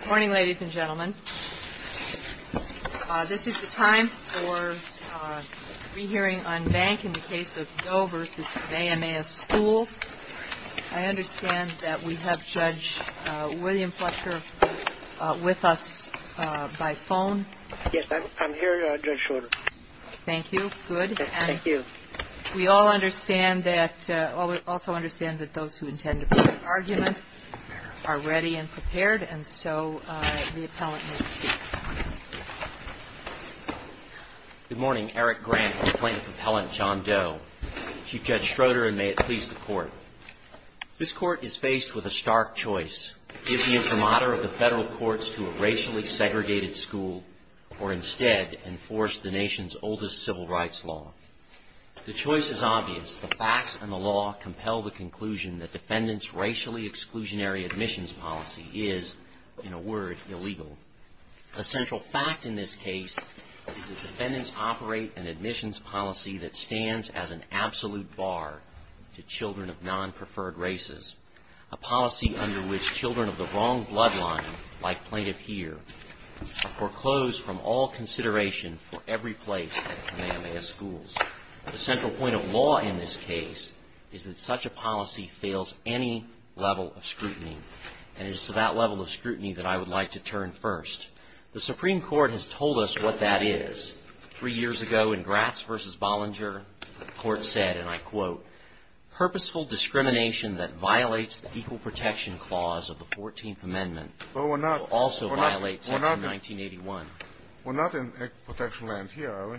Good morning, ladies and gentlemen. This is the time for a re-hearing on Bank in the case of Doe v. Kamehameha Schools. I understand that we have Judge William Fletcher with us by phone. Yes, I'm here, Judge Schroeder. Thank you. Good. Thank you. We all understand that – also understand that those who intend to put an argument are ready and prepared, and so the appellant may proceed. Good morning. Eric Grant, plaintiff appellant, John Doe. Chief Judge Schroeder, and may it please the Court. This Court is faced with a stark choice. Give the imprimatur of the federal courts to a racially segregated school, or instead, enforce the nation's oldest civil rights law. The choice is obvious. The facts and the law compel the conclusion that defendants' racially exclusionary admissions policy is, in a word, illegal. A central fact in this case is that defendants operate an admissions policy that stands as an absolute bar to children of non-preferred races, a policy under which children of the wrong bloodline, like plaintiff here, are foreclosed from all consideration for every place at Kamehameha Schools. The central point of law in this case is that such a policy fails any level of scrutiny, and it is to that level of scrutiny that I would like to turn first. The Supreme Court has told us what that is. Three years ago, in Gratz v. Bollinger, the Court said, and I quote, purposeful discrimination that violates the equal protection clause of the 14th Amendment. Well, we're not. Also violates section 1981. We're not in protection land here, are we?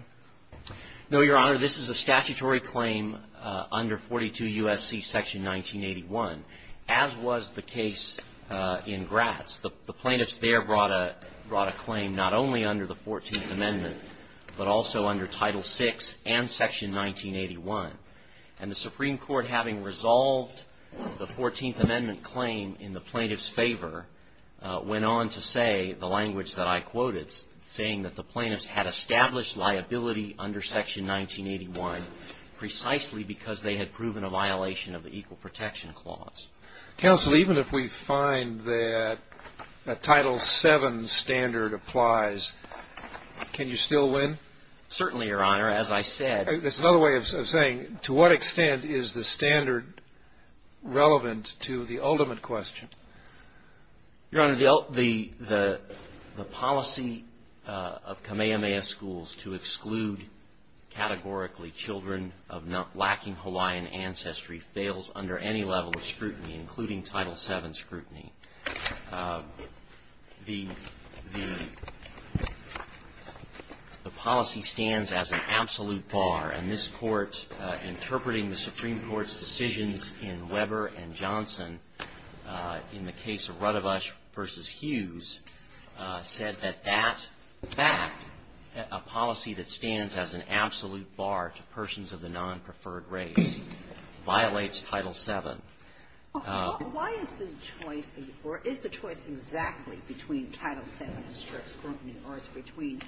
No, Your Honor. This is a statutory claim under 42 U.S.C. section 1981, as was the case in Gratz. The plaintiffs there brought a claim not only under the 14th Amendment, but also under Title VI and section 1981. And the Supreme Court, having resolved the 14th Amendment claim in the plaintiff's favor, went on to say the language that I quoted, saying that the plaintiffs had established liability under section 1981 precisely because they had proven a violation of the equal protection clause. Counsel, even if we find that a Title VII standard applies, can you still win? Certainly, Your Honor. As I said — That's another way of saying, to what extent is the standard relevant to the ultimate question? Your Honor, the policy of Kamehameha schools to exclude categorically children of lacking Hawaiian ancestry fails under any level of scrutiny, including Title VII scrutiny. The policy stands as an absolute bar. And this Court, interpreting the Supreme Court's decisions in Weber and Johnson in the case of Radovash v. Hughes, said that that fact, a policy that stands as an absolute bar to persons of the nonpreferred race, violates Title VII. Why is the choice, or is the choice exactly between Title VII and strict scrutiny, or is it between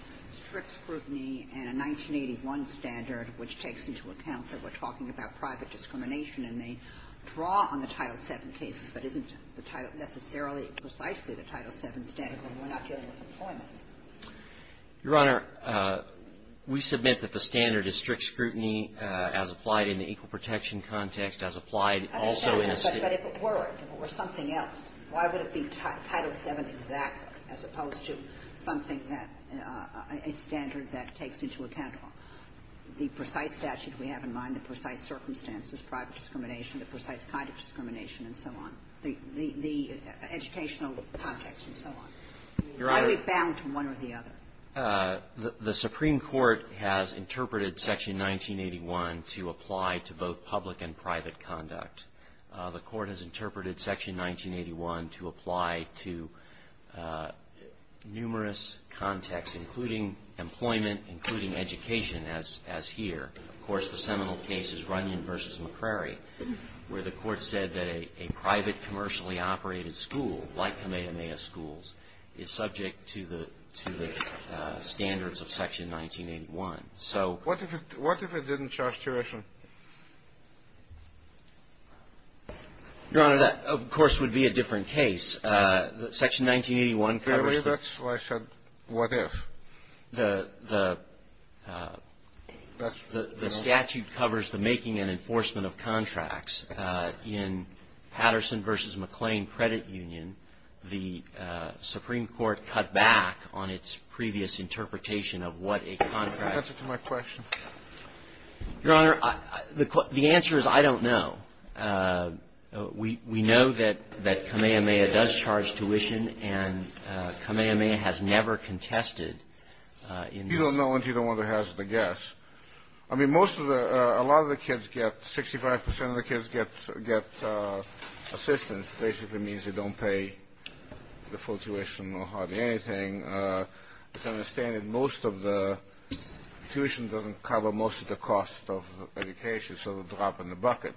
strict scrutiny and a 1981 standard which takes into account that we're talking about private discrimination and they draw on the Title VII cases but isn't necessarily precisely the Title VII standard when we're not dealing with employment? Your Honor, we submit that the standard is strict scrutiny as applied in the equal protection context as applied also in a — But if it were, if it were something else, why would it be Title VII exactly as opposed to something that — a standard that takes into account the precise statute we have in mind, the precise circumstances, private discrimination, the precise kind of discrimination and so on, the educational context and so on? Your Honor — Why are we bound to one or the other? The Supreme Court has interpreted Section 1981 to apply to both public and private conduct. The Court has interpreted Section 1981 to apply to numerous contexts, including employment, including education, as here. Of course, the seminal case is Runyon v. McCrary, where the Court said that a private commercially operated school, like Kamehameha Schools, is subject to the standards of Section 1981. So — What if it didn't charge tuition? Your Honor, that, of course, would be a different case. Section 1981 covers the — Clearly, that's why I said, what if? The statute covers the making and enforcement of contracts. In Patterson v. McClain Credit Union, the Supreme Court cut back on its previous interpretation of what a contract — Answer to my question. Your Honor, the answer is I don't know. We know that Kamehameha does charge tuition, and Kamehameha has never contested in this case. You don't know until you don't want to hazard a guess. I mean, most of the — a lot of the kids get — 65 percent of the kids get assistance, basically means they don't pay the full tuition or hardly anything. It's understanded most of the — tuition doesn't cover most of the cost of education, which is sort of a drop in the bucket.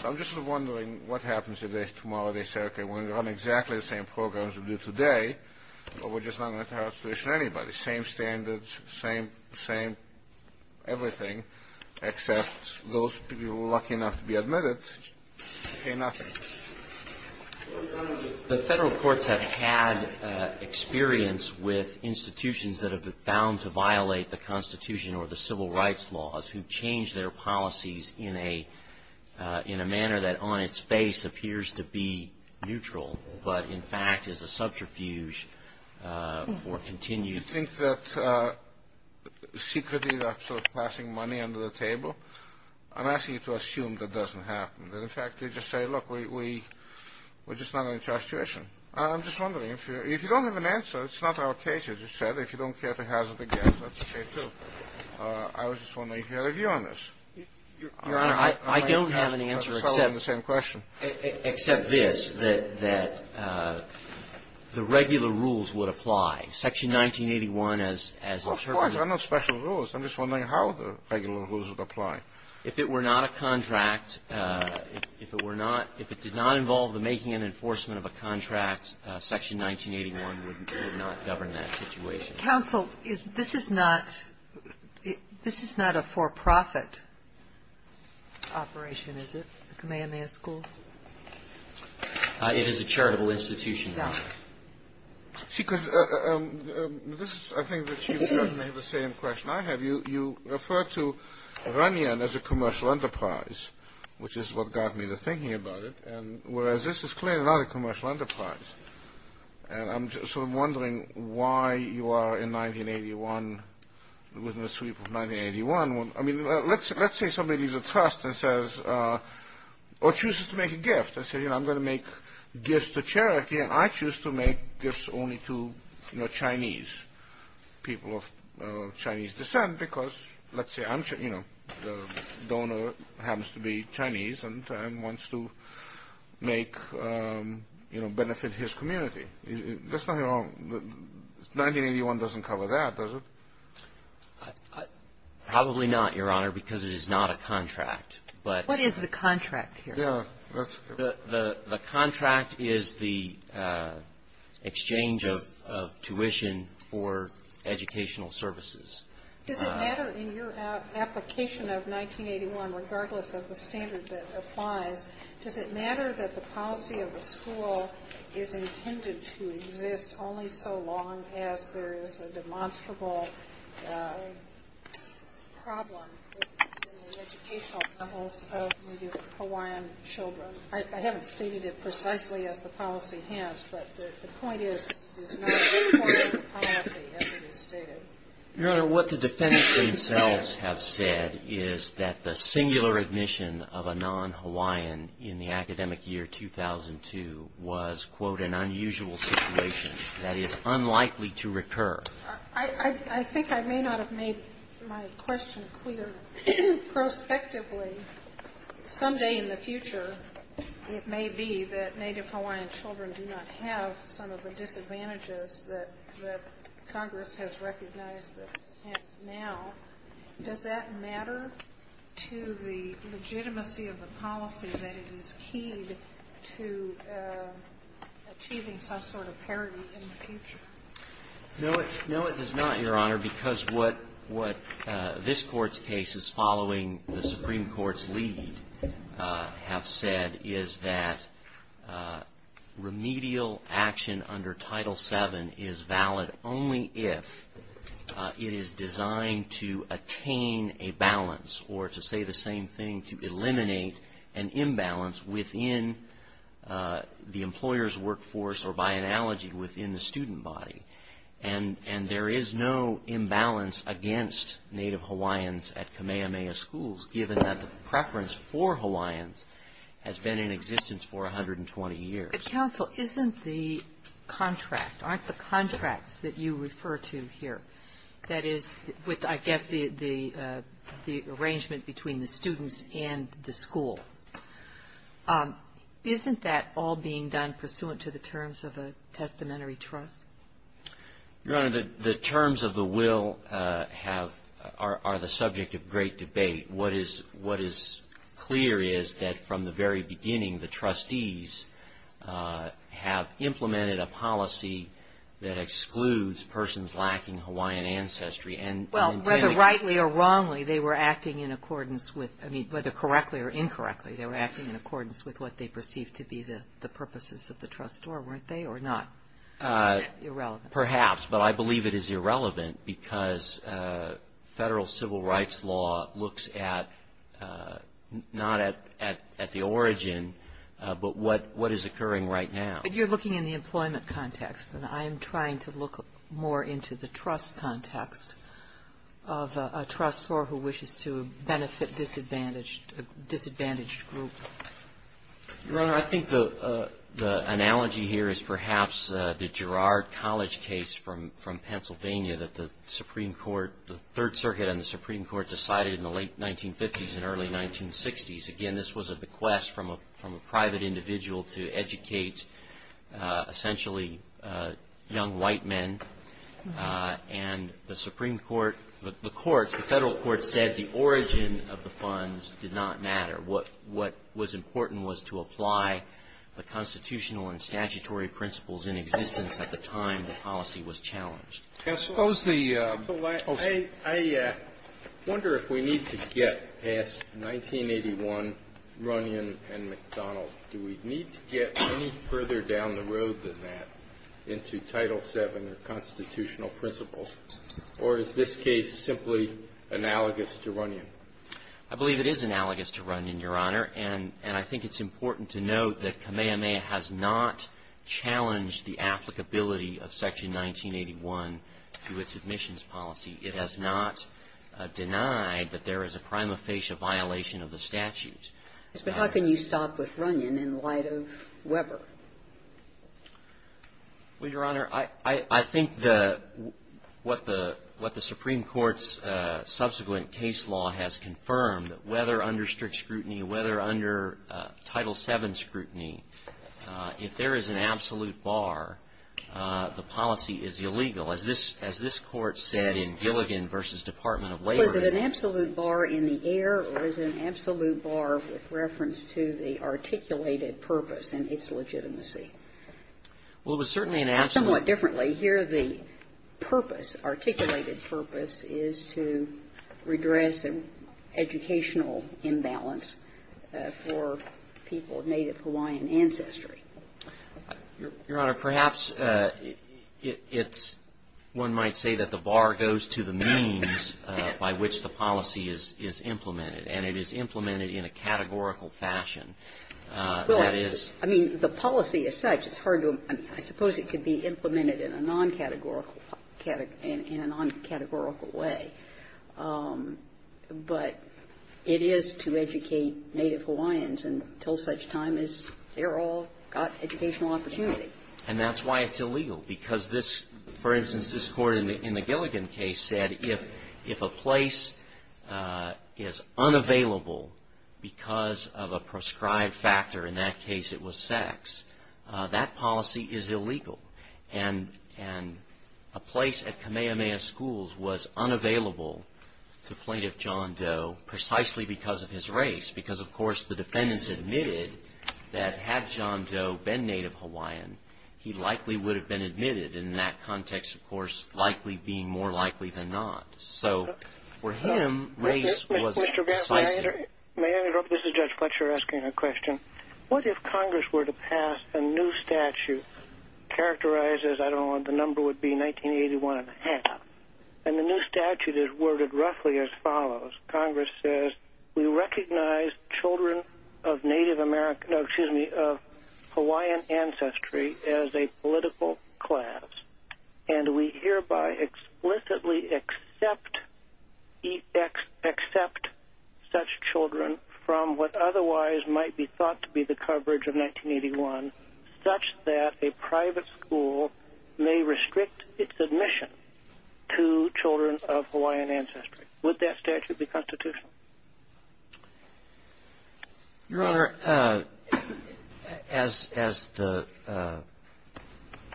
So I'm just sort of wondering what happens if tomorrow they say, okay, we're going to run exactly the same programs we do today, but we're just not going to charge tuition to anybody. Same standards, same — same everything, except those people who are lucky enough to be admitted pay nothing. The Federal courts have had experience with institutions that have been found to violate the Constitution or the civil rights laws, who change their policies in a manner that on its face appears to be neutral, but in fact is a subterfuge for continued — You think that secretly they're sort of passing money under the table? I'm asking you to assume that doesn't happen, that in fact they just say, look, we're just not going to charge tuition. I'm just wondering, if you don't have an answer, it's not our case, as you said, if you don't care to hazard a guess, that's okay, too. I was just wondering if you had a view on this. Your Honor, I don't have an answer except — I'm asking the same question. Except this, that — that the regular rules would apply. Section 1981, as — Well, of course. They're not special rules. I'm just wondering how the regular rules would apply. If it were not a contract — if it were not — if it did not involve the making and enforcement of a contract, Section 1981 would not govern that situation. Counsel, is — this is not — this is not a for-profit operation, is it, the Kamehameha School? It is a charitable institution, Your Honor. See, because this is — I think the Chief Judge may have the same question I have. You refer to Ronyon as a commercial enterprise, which is what got me to thinking about it. Whereas this is clearly not a commercial enterprise. And I'm just sort of wondering why you are in 1981, within the sweep of 1981. I mean, let's say somebody leaves a trust and says — or chooses to make a gift and says, you know, I'm going to make gifts to charity, and I choose to make gifts only to, you know, Chinese. People of Chinese descent, because, let's say, I'm — you know, the donor happens to be Chinese and wants to make, you know, benefit his community. There's nothing wrong — 1981 doesn't cover that, does it? Probably not, Your Honor, because it is not a contract. What is the contract here? The contract is the exchange of tuition for educational services. Does it matter in your application of 1981, regardless of the standard that applies, does it matter that the policy of the school is intended to exist only so long as there is a demonstrable problem in the educational levels of the Hawaiian children? I haven't stated it precisely as the policy has, but the point is it is not a requirement policy as it is stated. Your Honor, what the defendants themselves have said is that the singular admission of a non-Hawaiian in the academic year 2002 was, quote, an unusual situation that is unlikely to recur. I think I may not have made my question clear prospectively. Someday in the future, it may be that Native Hawaiian children do not have some of the disadvantages that Congress has recognized now. Does that matter to the legitimacy of the policy that it is keyed to achieving some sort of parity in the future? No, it does not, Your Honor, because what this Court's cases following the Supreme Court's lead have said is that remedial action under Title VII is valid only if it is designed to attain a balance or, to say the same thing, to eliminate an imbalance within the employer's workforce or, by analogy, within the student body. And there is no imbalance against Native Hawaiians at Kamehameha schools, given that the preference for Hawaiians has been in existence for 120 years. But, counsel, isn't the contract, aren't the contracts that you refer to here, that is, with I guess the arrangement between the students and the school, isn't that all being done pursuant to the terms of a testamentary trust? Your Honor, the terms of the will have or are the subject of great debate. What is clear is that from the very beginning, the trustees have implemented a policy that excludes persons lacking Hawaiian ancestry and Well, whether rightly or wrongly, they were acting in accordance with, I mean, whether correctly or incorrectly, they were acting in accordance with what they perceived to be the purposes of the trust or weren't they or not? Irrelevant. Perhaps, but I believe it is irrelevant because federal civil rights law looks at, not at the origin, but what is occurring right now. But you're looking in the employment context, and I'm trying to look more into the trust context of a trust for who wishes to benefit a disadvantaged group. Your Honor, I think the analogy here is perhaps the Girard College case from Pennsylvania that the Supreme Court, the Third Circuit and the Supreme Court decided in the late 1950s and early 1960s. Again, this was a bequest from a private individual to educate essentially young white men. And the Supreme Court, the courts, the federal courts said the origin of the funds did not matter. What was important was to apply the constitutional and statutory principles in existence at the time the policy was challenged. Can I suppose the ---- I wonder if we need to get past 1981, Runyon and McDonald. Do we need to get any further down the road than that into Title VII or constitutional principles, or is this case simply analogous to Runyon? I believe it is analogous to Runyon, Your Honor. And I think it's important to note that Kamehameha has not challenged the applicability of Section 1981 to its admissions policy. It has not denied that there is a prima facie violation of the statute. But how can you stop with Runyon in light of Weber? Well, Your Honor, I think what the Supreme Court's subsequent case law has confirmed, whether under strict scrutiny, whether under Title VII scrutiny, if there is an absolute bar, the policy is illegal. As this Court said in Gilligan v. Department of Labor ---- Was it an absolute bar in the air, or is it an absolute bar with reference to the articulated purpose and its legitimacy? Well, it was certainly an absolute ---- Somewhat differently. Here the purpose, articulated purpose, is to redress an educational imbalance for people of Native Hawaiian ancestry. Your Honor, perhaps it's ---- one might say that the bar goes to the means by which the policy is implemented, and it is implemented in a categorical fashion. Well, I mean, the policy as such, it's hard to ---- I suppose it could be implemented in a non-categorical ---- in a non-categorical way. But it is to educate Native Hawaiians until such time as they're all got educational opportunity. And that's why it's illegal, because this ---- for instance, this Court in the Gilligan case said if a place is unavailable because of a prescribed factor, in that case it was sex, that policy is illegal. And a place at Kamehameha Schools was unavailable to Plaintiff John Doe precisely because of his race, because, of course, the defendants admitted that had John Doe been Native Hawaiian, he likely would have been admitted in that context, of course, likely being more likely than not. So for him, race was decisive. May I interrupt? This is Judge Fletcher asking a question. What if Congress were to pass a new statute characterized as, I don't know, the number would be 1981 and a half, and the new statute is worded roughly as follows. Congress says, we recognize children of Hawaiian ancestry as a political class, and we hereby explicitly accept such children from what otherwise might be thought to be the coverage of 1981, such that a private school may restrict its admission to children of Hawaiian ancestry. Would that statute be constitutional? Your Honor, as the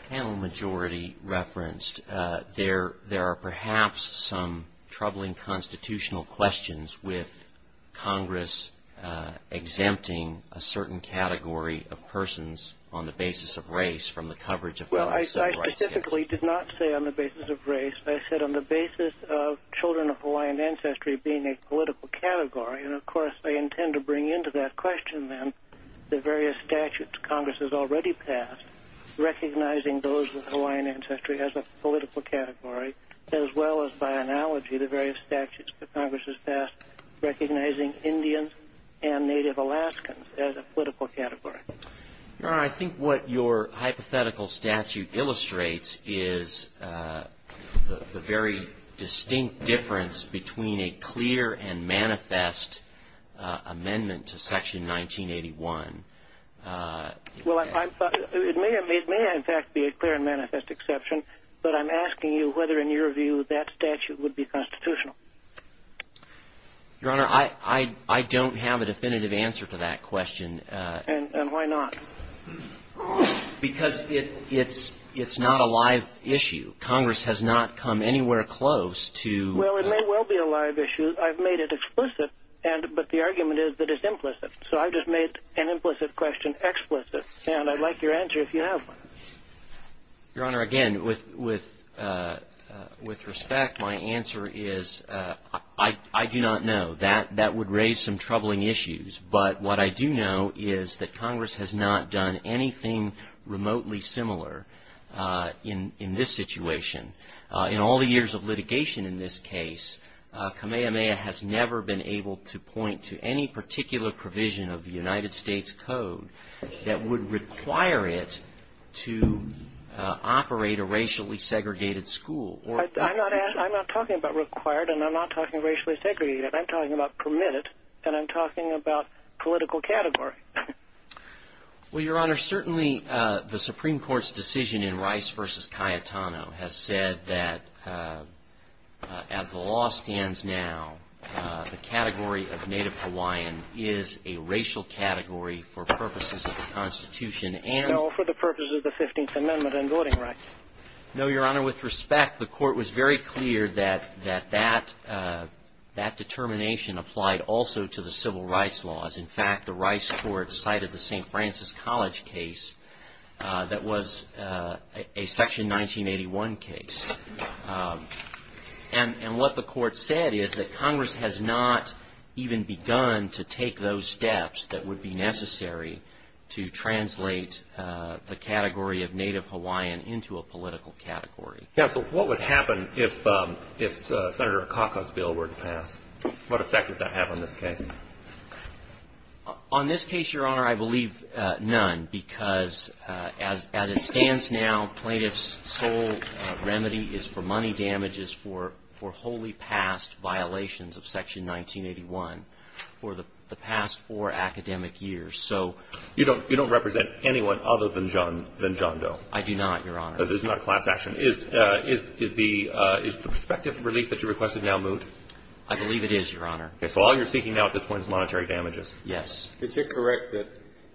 panel majority referenced, there are perhaps some troubling constitutional questions with Congress exempting a certain category of persons on the basis of race from the coverage of rights. Well, I specifically did not say on the basis of race. I said on the basis of children of Hawaiian ancestry being a political category, and, of course, I intend to bring into that question, then, the various statutes Congress has already passed recognizing those with Hawaiian ancestry as a political category, as well as, by analogy, the various statutes that Congress has passed recognizing Indians and Native Alaskans as a political category. Your Honor, I think what your hypothetical statute illustrates is the very distinct difference between a clear and manifest amendment to Section 1981. Well, it may, in fact, be a clear and manifest exception, but I'm asking you whether, in your view, that statute would be constitutional. Your Honor, I don't have a definitive answer to that question. And why not? Because it's not a live issue. Congress has not come anywhere close to… Well, it may well be a live issue. I've made it explicit, but the argument is that it's implicit. So I've just made an implicit question explicit, and I'd like your answer if you have one. Your Honor, again, with respect, my answer is I do not know. That would raise some troubling issues. But what I do know is that Congress has not done anything remotely similar in this situation. In all the years of litigation in this case, Kamehameha has never been able to point to any particular provision of the United States Code that would require it to operate a racially segregated school. I'm not talking about required, and I'm not talking racially segregated. I'm talking about permitted, and I'm talking about political category. Well, Your Honor, certainly the Supreme Court's decision in Rice v. Cayetano has said that as the law stands now, the category of Native Hawaiian is a racial category for purposes of the Constitution and… No, for the purposes of the 15th Amendment and voting rights. No, Your Honor. With respect, the Court was very clear that that determination applied also to the civil rights laws. In fact, the Rice Court cited the St. Francis College case that was a Section 1981 case. And what the Court said is that Congress has not even begun to take those steps that would be necessary to translate the category of Native Hawaiian into a political category. Yeah, but what would happen if Senator Akaka's bill were to pass? What effect would that have on this case? On this case, Your Honor, I believe none, because as it stands now, plaintiff's sole remedy is for money damages for wholly passed violations of Section 1981 for the past four academic years. So… You don't represent anyone other than John Doe. I do not, Your Honor. This is not a class action. Is the prospective release that you requested now moot? I believe it is, Your Honor. Okay. So all you're seeking now at this point is monetary damages. Yes. Is it correct that,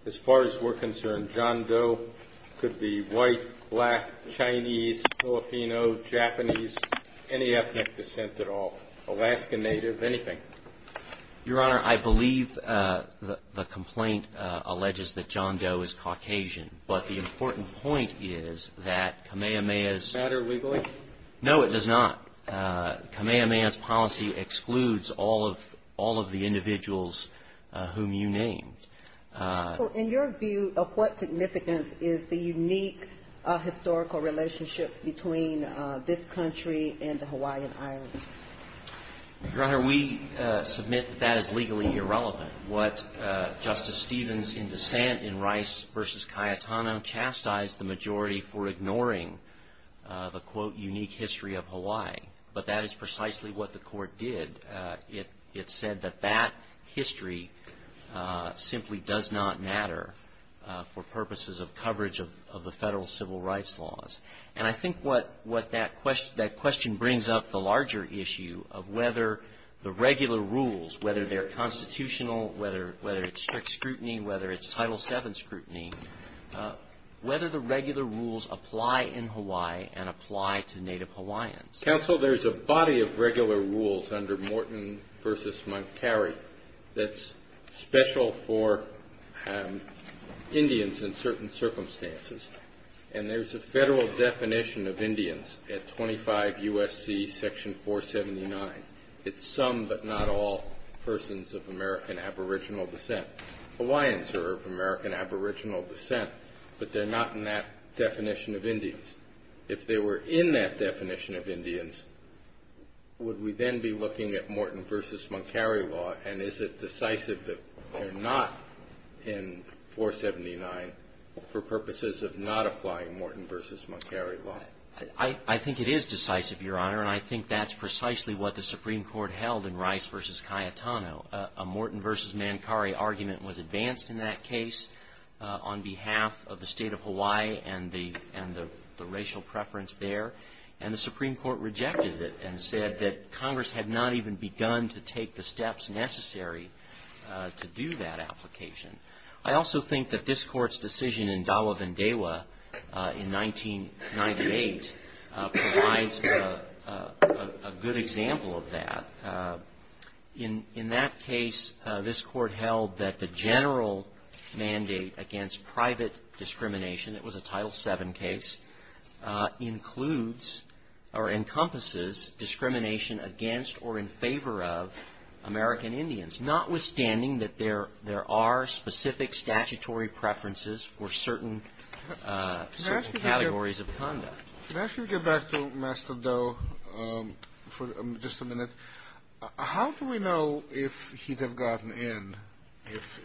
as far as we're concerned, John Doe could be white, black, Chinese, Filipino, Japanese, any ethnic descent at all, Alaska Native, anything? Your Honor, I believe the complaint alleges that John Doe is Caucasian, but the important point is that Kamehameha's… Does it matter legally? No, it does not. Kamehameha's policy excludes all of the individuals whom you named. So in your view, of what significance is the unique historical relationship between this country and the Hawaiian Islands? Your Honor, we submit that that is legally irrelevant. What Justice Stevens in dissent in Rice v. Cayetano chastised the majority for ignoring the, quote, unique history of Hawaii. But that is precisely what the court did. It said that that history simply does not matter for purposes of coverage of the federal civil rights laws. And I think what that question brings up the larger issue of whether the regular rules, whether they're constitutional, whether it's strict scrutiny, whether it's Title VII scrutiny, whether the regular rules apply in Hawaii and apply to Native Hawaiians. Counsel, there's a body of regular rules under Morton v. Montgomery that's special for Indians in certain circumstances. And there's a federal definition of Indians at 25 U.S.C. Section 479. It's some but not all persons of American aboriginal descent. Hawaiians are of American aboriginal descent, but they're not in that definition of Indians. If they were in that definition of Indians, would we then be looking at Morton v. Montgomery law, and is it decisive that they're not in 479 for purposes of not applying Morton v. Montgomery law? I think it is decisive, Your Honor. And I think that's precisely what the Supreme Court held in Rice v. Cayetano. A Morton v. Montgomery argument was advanced in that case on behalf of the state of Hawaii and the racial preference there. And the Supreme Court rejected it and said that Congress had not even begun to take the steps necessary to do that application. I also think that this Court's decision in Dalla Vendewa in 1998 provides a good example of that. In that case, this Court held that the general mandate against private discrimination, it was a Title VII case, includes or encompasses discrimination against or in favor of American Indians, notwithstanding that there are specific statutory preferences for certain categories of conduct. If I could get back to Master Doe for just a minute. How do we know if he'd have gotten in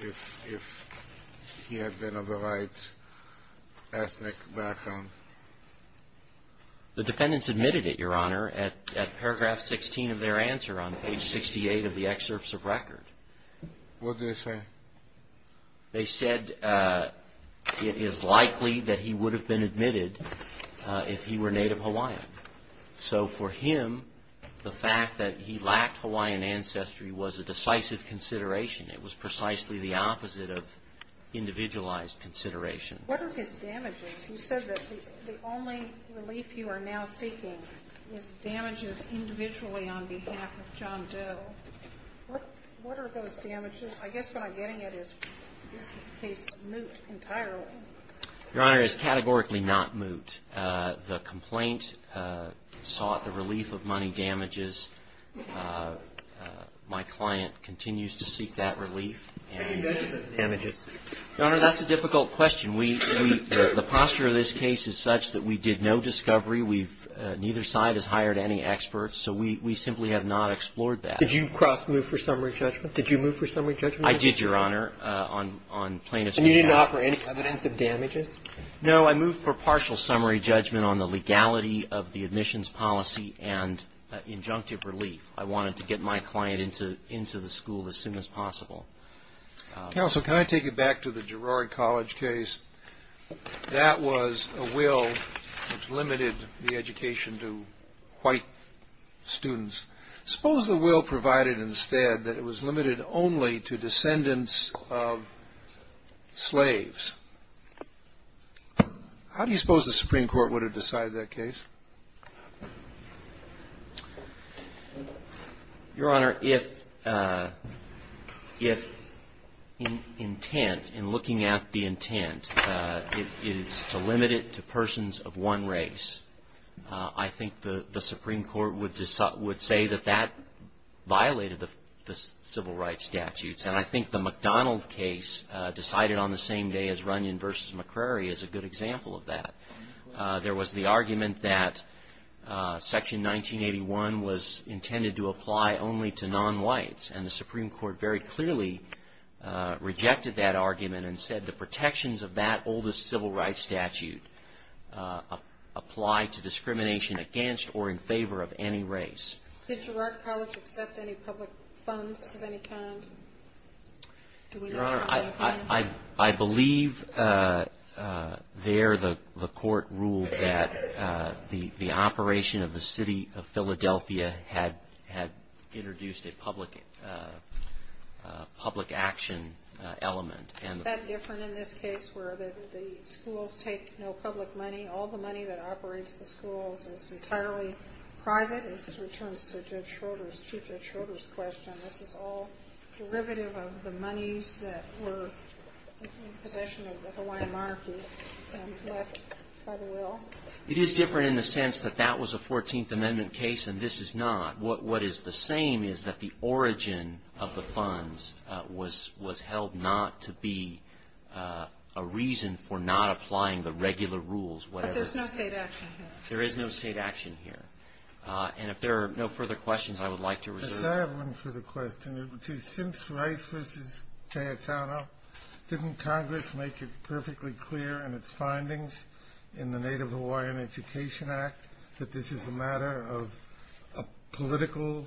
if he had been of the right ethnic background? The defendants admitted it, Your Honor, at paragraph 16 of their answer on page 68 of the excerpts of record. What did they say? They said it is likely that he would have been admitted if he were Native Hawaiian. So for him, the fact that he lacked Hawaiian ancestry was a decisive consideration. It was precisely the opposite of individualized consideration. What are his damages? You said that the only relief you are now seeking is damages individually on behalf of John Doe. What are those damages? I guess what I'm getting at is, is this case moot entirely? Your Honor, it is categorically not moot. The complaint sought the relief of money damages. My client continues to seek that relief. How do you measure the damages? Your Honor, that's a difficult question. The posture of this case is such that we did no discovery. Neither side has hired any experts, so we simply have not explored that. Did you cross-move for summary judgment? Did you move for summary judgment? I did, Your Honor, on plaintiff's behalf. And you didn't offer any evidence of damages? No. I moved for partial summary judgment on the legality of the admissions policy and injunctive relief. I wanted to get my client into the school as soon as possible. Counsel, can I take you back to the Girard College case? That was a will which limited the education to white students. Suppose the will provided instead that it was limited only to descendants of slaves. How do you suppose the Supreme Court would have decided that case? Your Honor, if intent, in looking at the intent, is to limit it to persons of one race, I think the Supreme Court would say that that violated the civil rights statutes. And I think the McDonald case decided on the same day as Runyon v. McCrary is a good example of that. There was the argument that Section 1981 was intended to apply only to non-whites. And the Supreme Court very clearly rejected that argument and said the protections of that oldest civil rights statute apply to discrimination against or in favor of any race. Did Girard College accept any public funds of any kind? Your Honor, I believe there the court ruled that the operation of the city of Philadelphia had introduced a public action element. Is that different in this case where the schools take no public money, all the money that operates the schools is entirely private? This returns to Chief Judge Schroeder's question. This is all derivative of the monies that were in possession of the Hawaiian monarchy left by the will? It is different in the sense that that was a 14th Amendment case and this is not. What is the same is that the origin of the funds was held not to be a reason for not applying the regular rules. But there's no state action here. There is no state action here. And if there are no further questions, I would like to resume. Could I have one further question? Since Rice v. Cayetano, didn't Congress make it perfectly clear in its findings in the Native Hawaiian Education Act that this is a matter of a political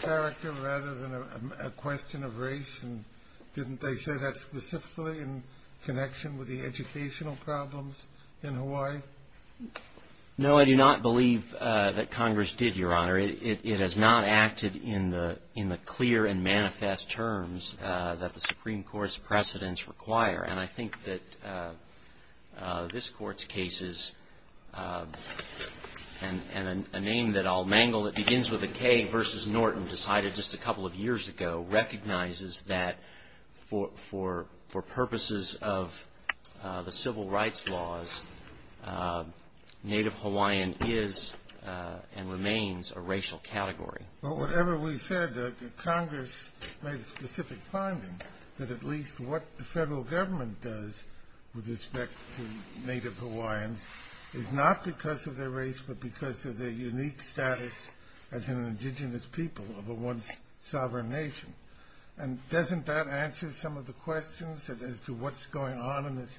character rather than a question of race? And didn't they say that specifically in connection with the educational problems in Hawaii? No, I do not believe that Congress did, Your Honor. It has not acted in the clear and manifest terms that the Supreme Court's precedents require. And I think that this Court's cases and a name that I'll mangle that begins with a K versus Norton decided just a couple of years ago recognizes that for purposes of the civil rights laws, Native Hawaiian is and remains a racial category. But whatever we said, Congress made a specific finding that at least what the federal government does with respect to Native Hawaiians is not because of their race but because of their unique status as an indigenous people of a once sovereign nation. And doesn't that answer some of the questions as to what's going on in this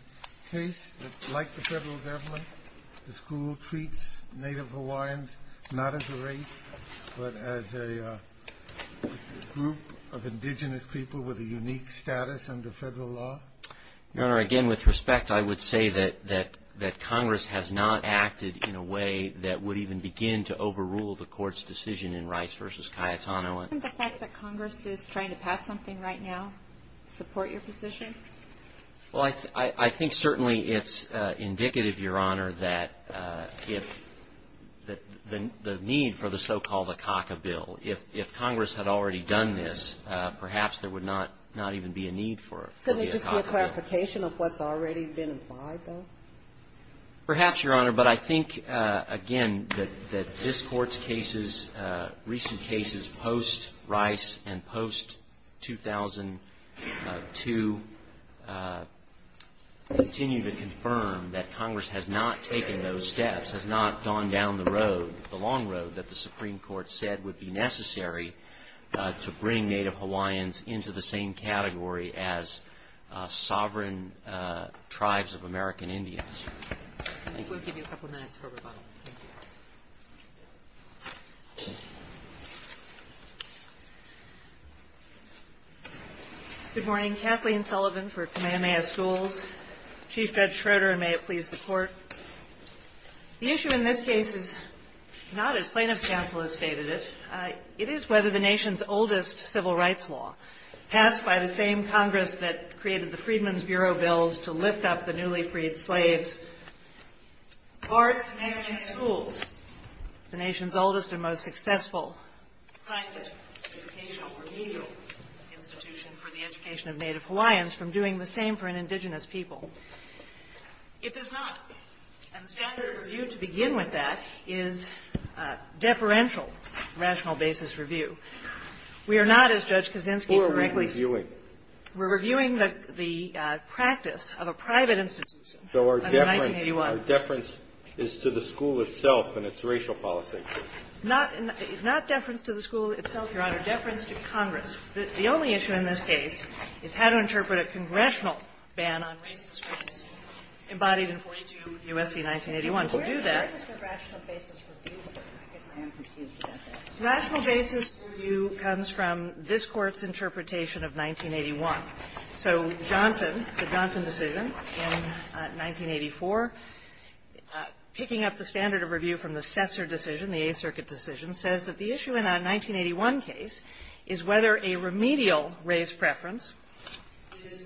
case? Like the federal government, the school treats Native Hawaiians not as a race but as a group of indigenous people with a unique status under federal law? Your Honor, again, with respect, I would say that Congress has not acted in a way that would even begin to overrule the Court's decision in Rice v. Cayetano. Doesn't the fact that Congress is trying to pass something right now support your position? Well, I think certainly it's indicative, Your Honor, that if the need for the so-called Akaka Bill, if Congress had already done this, perhaps there would not even be a need for the Akaka Bill. Couldn't it just be a clarification of what's already been implied, though? Perhaps, Your Honor, but I think, again, that this Court's cases, recent cases post-Rice and post-2002, continue to confirm that Congress has not taken those steps, has not gone down the road, the long road, that the Supreme Court said would be necessary to bring Native Hawaiians into the same category as sovereign tribes of American Indians. Thank you. We'll give you a couple minutes for rebuttal. Good morning. Kathleen Sullivan for Kamehameha Schools. Chief Judge Schroeder, and may it please the Court. The issue in this case is not, as plaintiff's counsel has stated it, it is whether the nation's oldest civil rights law, passed by the same Congress that created the Freedmen's Bureau bills to lift up the newly freed slaves, bars to marry in schools, the nation's oldest and most successful private educational remedial institution for the education of Native Hawaiians, from doing the same for an indigenous people. It does not. And the standard of review to begin with that is deferential rational basis review. We are not, as Judge Kaczynski correctly said. So what are we reviewing? We're reviewing the practice of a private institution under 1981. So our deference is to the school itself and its racial policy. Not deference to the school itself, Your Honor. Deference to Congress. The only issue in this case is how to interpret a congressional ban on race discrimination embodied in 42 U.S.C. 1981. To do that — Where is the rational basis review? Rational basis review comes from this Court's interpretation of 1981. So Johnson, the Johnson decision in 1984, picking up the standard of review from the Setzer decision, the Eighth Circuit decision, says that the issue in a 1981 case is whether a remedial race preference is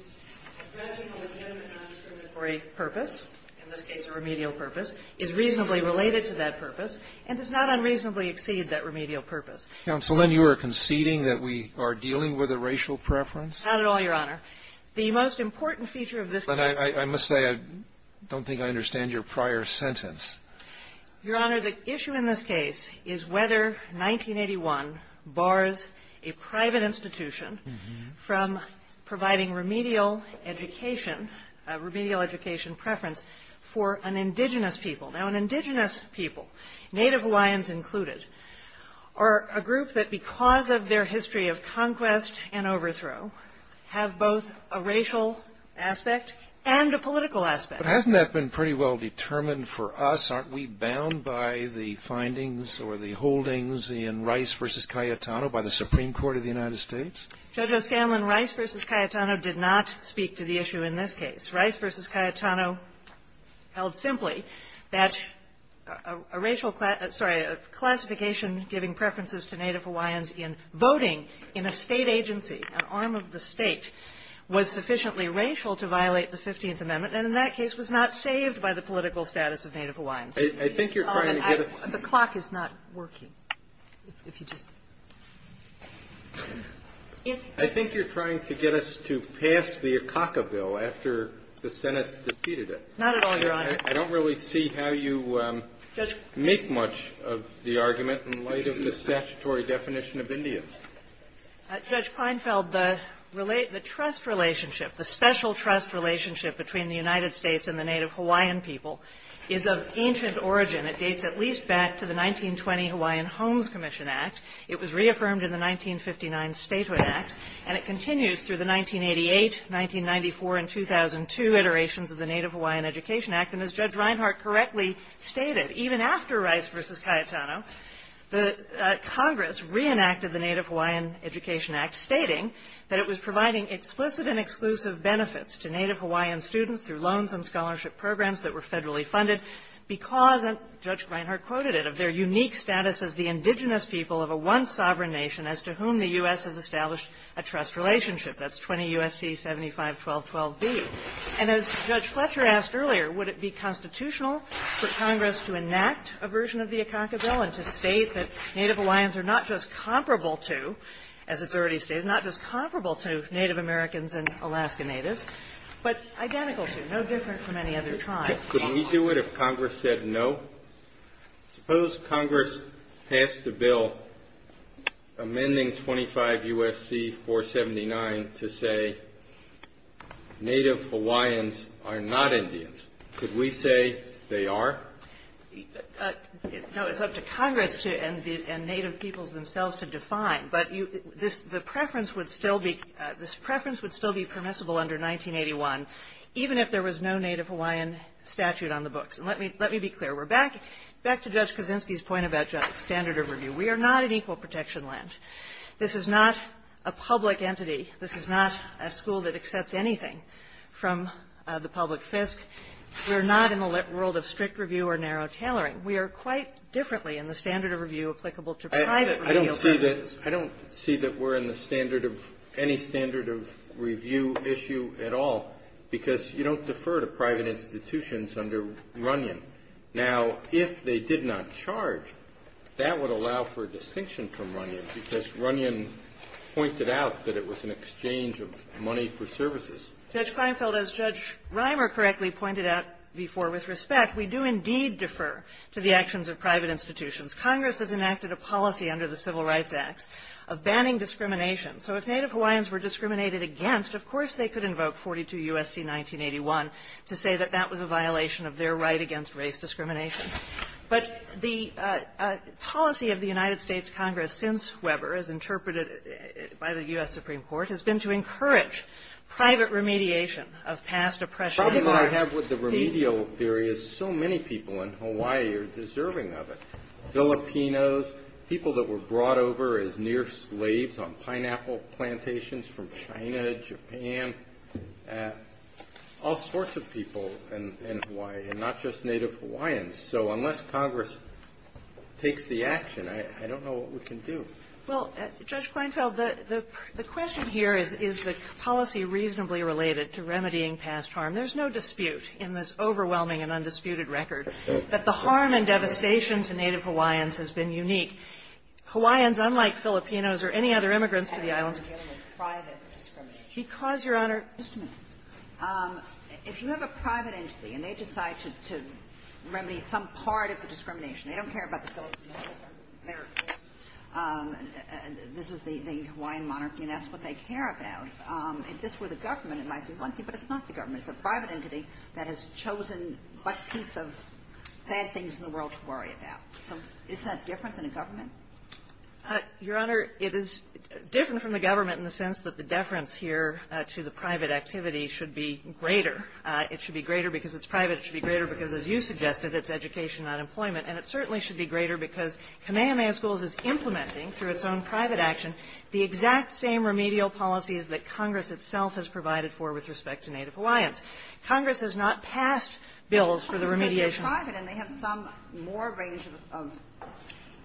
addressing a legitimate non-discriminatory purpose, in this case a remedial purpose, is reasonably related to that purpose, and does not unreasonably exceed that remedial purpose. Counsel, then you are conceding that we are dealing with a racial preference? Not at all, Your Honor. The most important feature of this case is — But I must say, I don't think I understand your prior sentence. Your Honor, the issue in this case is whether 1981 bars a private institution from providing remedial education, remedial education preference for an indigenous people. Now, an indigenous people, Native Hawaiians included, are a group that, because of their history of conquest and overthrow, have both a racial aspect and a political aspect. But hasn't that been pretty well determined for us? Aren't we bound by the findings or the holdings in Rice v. Cayetano by the Supreme Court of the United States? Judge O'Scanlan, Rice v. Cayetano did not speak to the issue in this case. Rice v. Cayetano held simply that a racial — sorry, a classification giving preferences to Native Hawaiians in voting in a State agency, an arm of the State, was sufficiently racial to violate the Fifteenth Amendment. And in that case, was not saved by the political status of Native Hawaiians. I think you're trying to get us — The clock is not working. If you just — I think you're trying to get us to pass the Akaka Bill after the Senate defeated it. Not at all, Your Honor. I don't really see how you make much of the argument in light of the statutory definition of Indians. Judge Feinfeld, the trust relationship, the special trust relationship between the United States and the Native Hawaiian people is of ancient origin. It dates at least back to the 1920 Hawaiian Homes Commission Act. It was reaffirmed in the 1959 Statehood Act. And it continues through the 1988, 1994, and 2002 iterations of the Native Hawaiian Education Act. And as Judge Reinhart correctly stated, even after Rice v. Cayetano, the Congress reenacted the Native Hawaiian Education Act, stating that it was providing explicit and exclusive benefits to Native Hawaiian students through loans and scholarship programs that were federally funded because, and Judge Reinhart quoted it, of their unique status as the indigenous people of a once-sovereign nation as to whom the U.S. has established a trust relationship. That's 20 U.S.C. 751212b. And as Judge Fletcher asked earlier, would it be constitutional for Congress to enact a version of the Akaka Bill and to state that Native Hawaiians are not just comparable to, as it's already stated, not just comparable to Native Americans and Alaska Natives, but identical to, no different from any other tribe? Kennedy. Could we do it if Congress said no? Suppose Congress passed a bill amending 25 U.S.C. 479 to say Native Hawaiians are not Indians. Could we say they are? Kagan. No. It's up to Congress and Native peoples themselves to define. But this preference would still be permissible under 1981, even if there was no Native Hawaiian statute on the books. And let me be clear. We're back to Judge Kaczynski's point about standard of review. We are not an equal protection land. This is not a public entity. This is not a school that accepts anything from the public fisc. We're not in the world of strict review or narrow tailoring. We are quite differently in the standard of review applicable to private review purposes. I don't see that we're in the standard of any standard of review issue at all, because you don't defer to private institutions under Runyon. Now, if they did not charge, that would allow for a distinction from Runyon, because Runyon pointed out that it was an exchange of money for services. Judge Kleinfeld, as Judge Reimer correctly pointed out before with respect, we do indeed defer to the actions of private institutions. Congress has enacted a policy under the Civil Rights Acts of banning discrimination. So if Native Hawaiians were discriminated against, of course they could invoke 42 U.S.C. 1981 to say that that was a violation of their right against race discrimination. But the policy of the United States Congress since Weber, as interpreted by the U.S. Supreme Court, has been to encourage private remediation of past oppression. And in my opinion the problem I have with the remedial theory is so many people in Hawaii are deserving of it, Filipinos, people that were brought over as near slaves on pineapple plantations from China, Japan, all sorts of people in Hawaii, and not just Native Hawaiians. So unless Congress takes the action, I don't know what we can do. Well, Judge Kleinfeld, the question here is, is the policy reasonably related to remedying past harm? There's no dispute in this overwhelming and undisputed record that the harm and devastation to Native Hawaiians has been unique. Hawaiians, unlike Filipinos or any other immigrants to the islands, because, Your Honor, if you have a private entity and they decide to remedy some part of the discrimination, they don't care about the Filipinos or Americans, this is the Hawaiian monarchy and that's what they care about. If this were the government, it might be one thing, but it's not the government. It's a private entity that has chosen what piece of bad things in the world to worry about. So is that different than a government? Your Honor, it is different from the government in the sense that the deference here to the private activity should be greater. It should be greater because it's private. It should be greater because, as you suggested, it's education, not employment. And it certainly should be greater because Kamehameha Schools is implementing through its own private action the exact same remedial policies that Congress itself has provided for with respect to Native Hawaiians. Congress has not passed bills for the remediation. But they're private and they have some more range of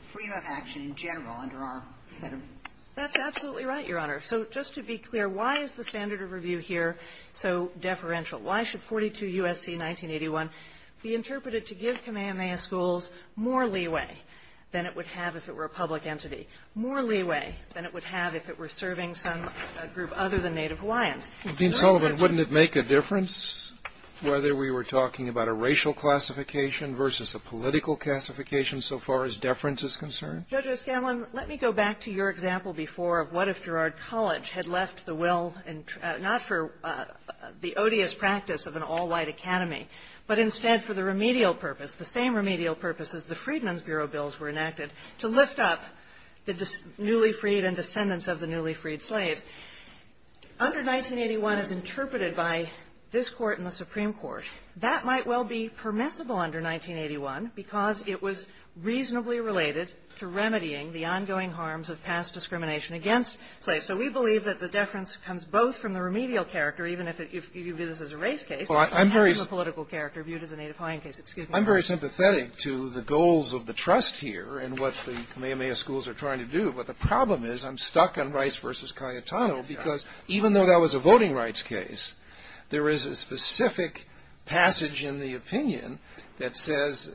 freedom of action in general under our set of rules. That's absolutely right, Your Honor. So just to be clear, why is the standard of review here so deferential? Why should 42 U.S.C. 1981 be interpreted to give Kamehameha Schools more leeway than it would have if it were a public entity, more leeway than it would have if it were serving some group other than Native Hawaiians? Kennedy, wouldn't it make a difference whether we were talking about a racial classification versus a political classification so far as deference is concerned? Judge O'Scanlan, let me go back to your example before of what if Gerard College had left the will not for the odious practice of an all-white academy, but instead for the remedial purpose, the same remedial purpose as the Freedmen's Bureau bills were enacted, to lift up the newly freed and descendants of the newly freed slaves. Under 1981 as interpreted by this Court and the Supreme Court, that might well be permissible under 1981 because it was reasonably related to remedying the ongoing harms of past discrimination against slaves. So we believe that the deference comes both from the remedial character, even if you view this as a race case, and from a political character viewed as a Native Hawaiian case. Excuse me. I'm very sympathetic to the goals of the trust here and what the Kamehameha Schools are trying to do, but the problem is I'm stuck on Rice v. Cayetano because even though that was a voting rights case, there is a specific passage in the opinion that says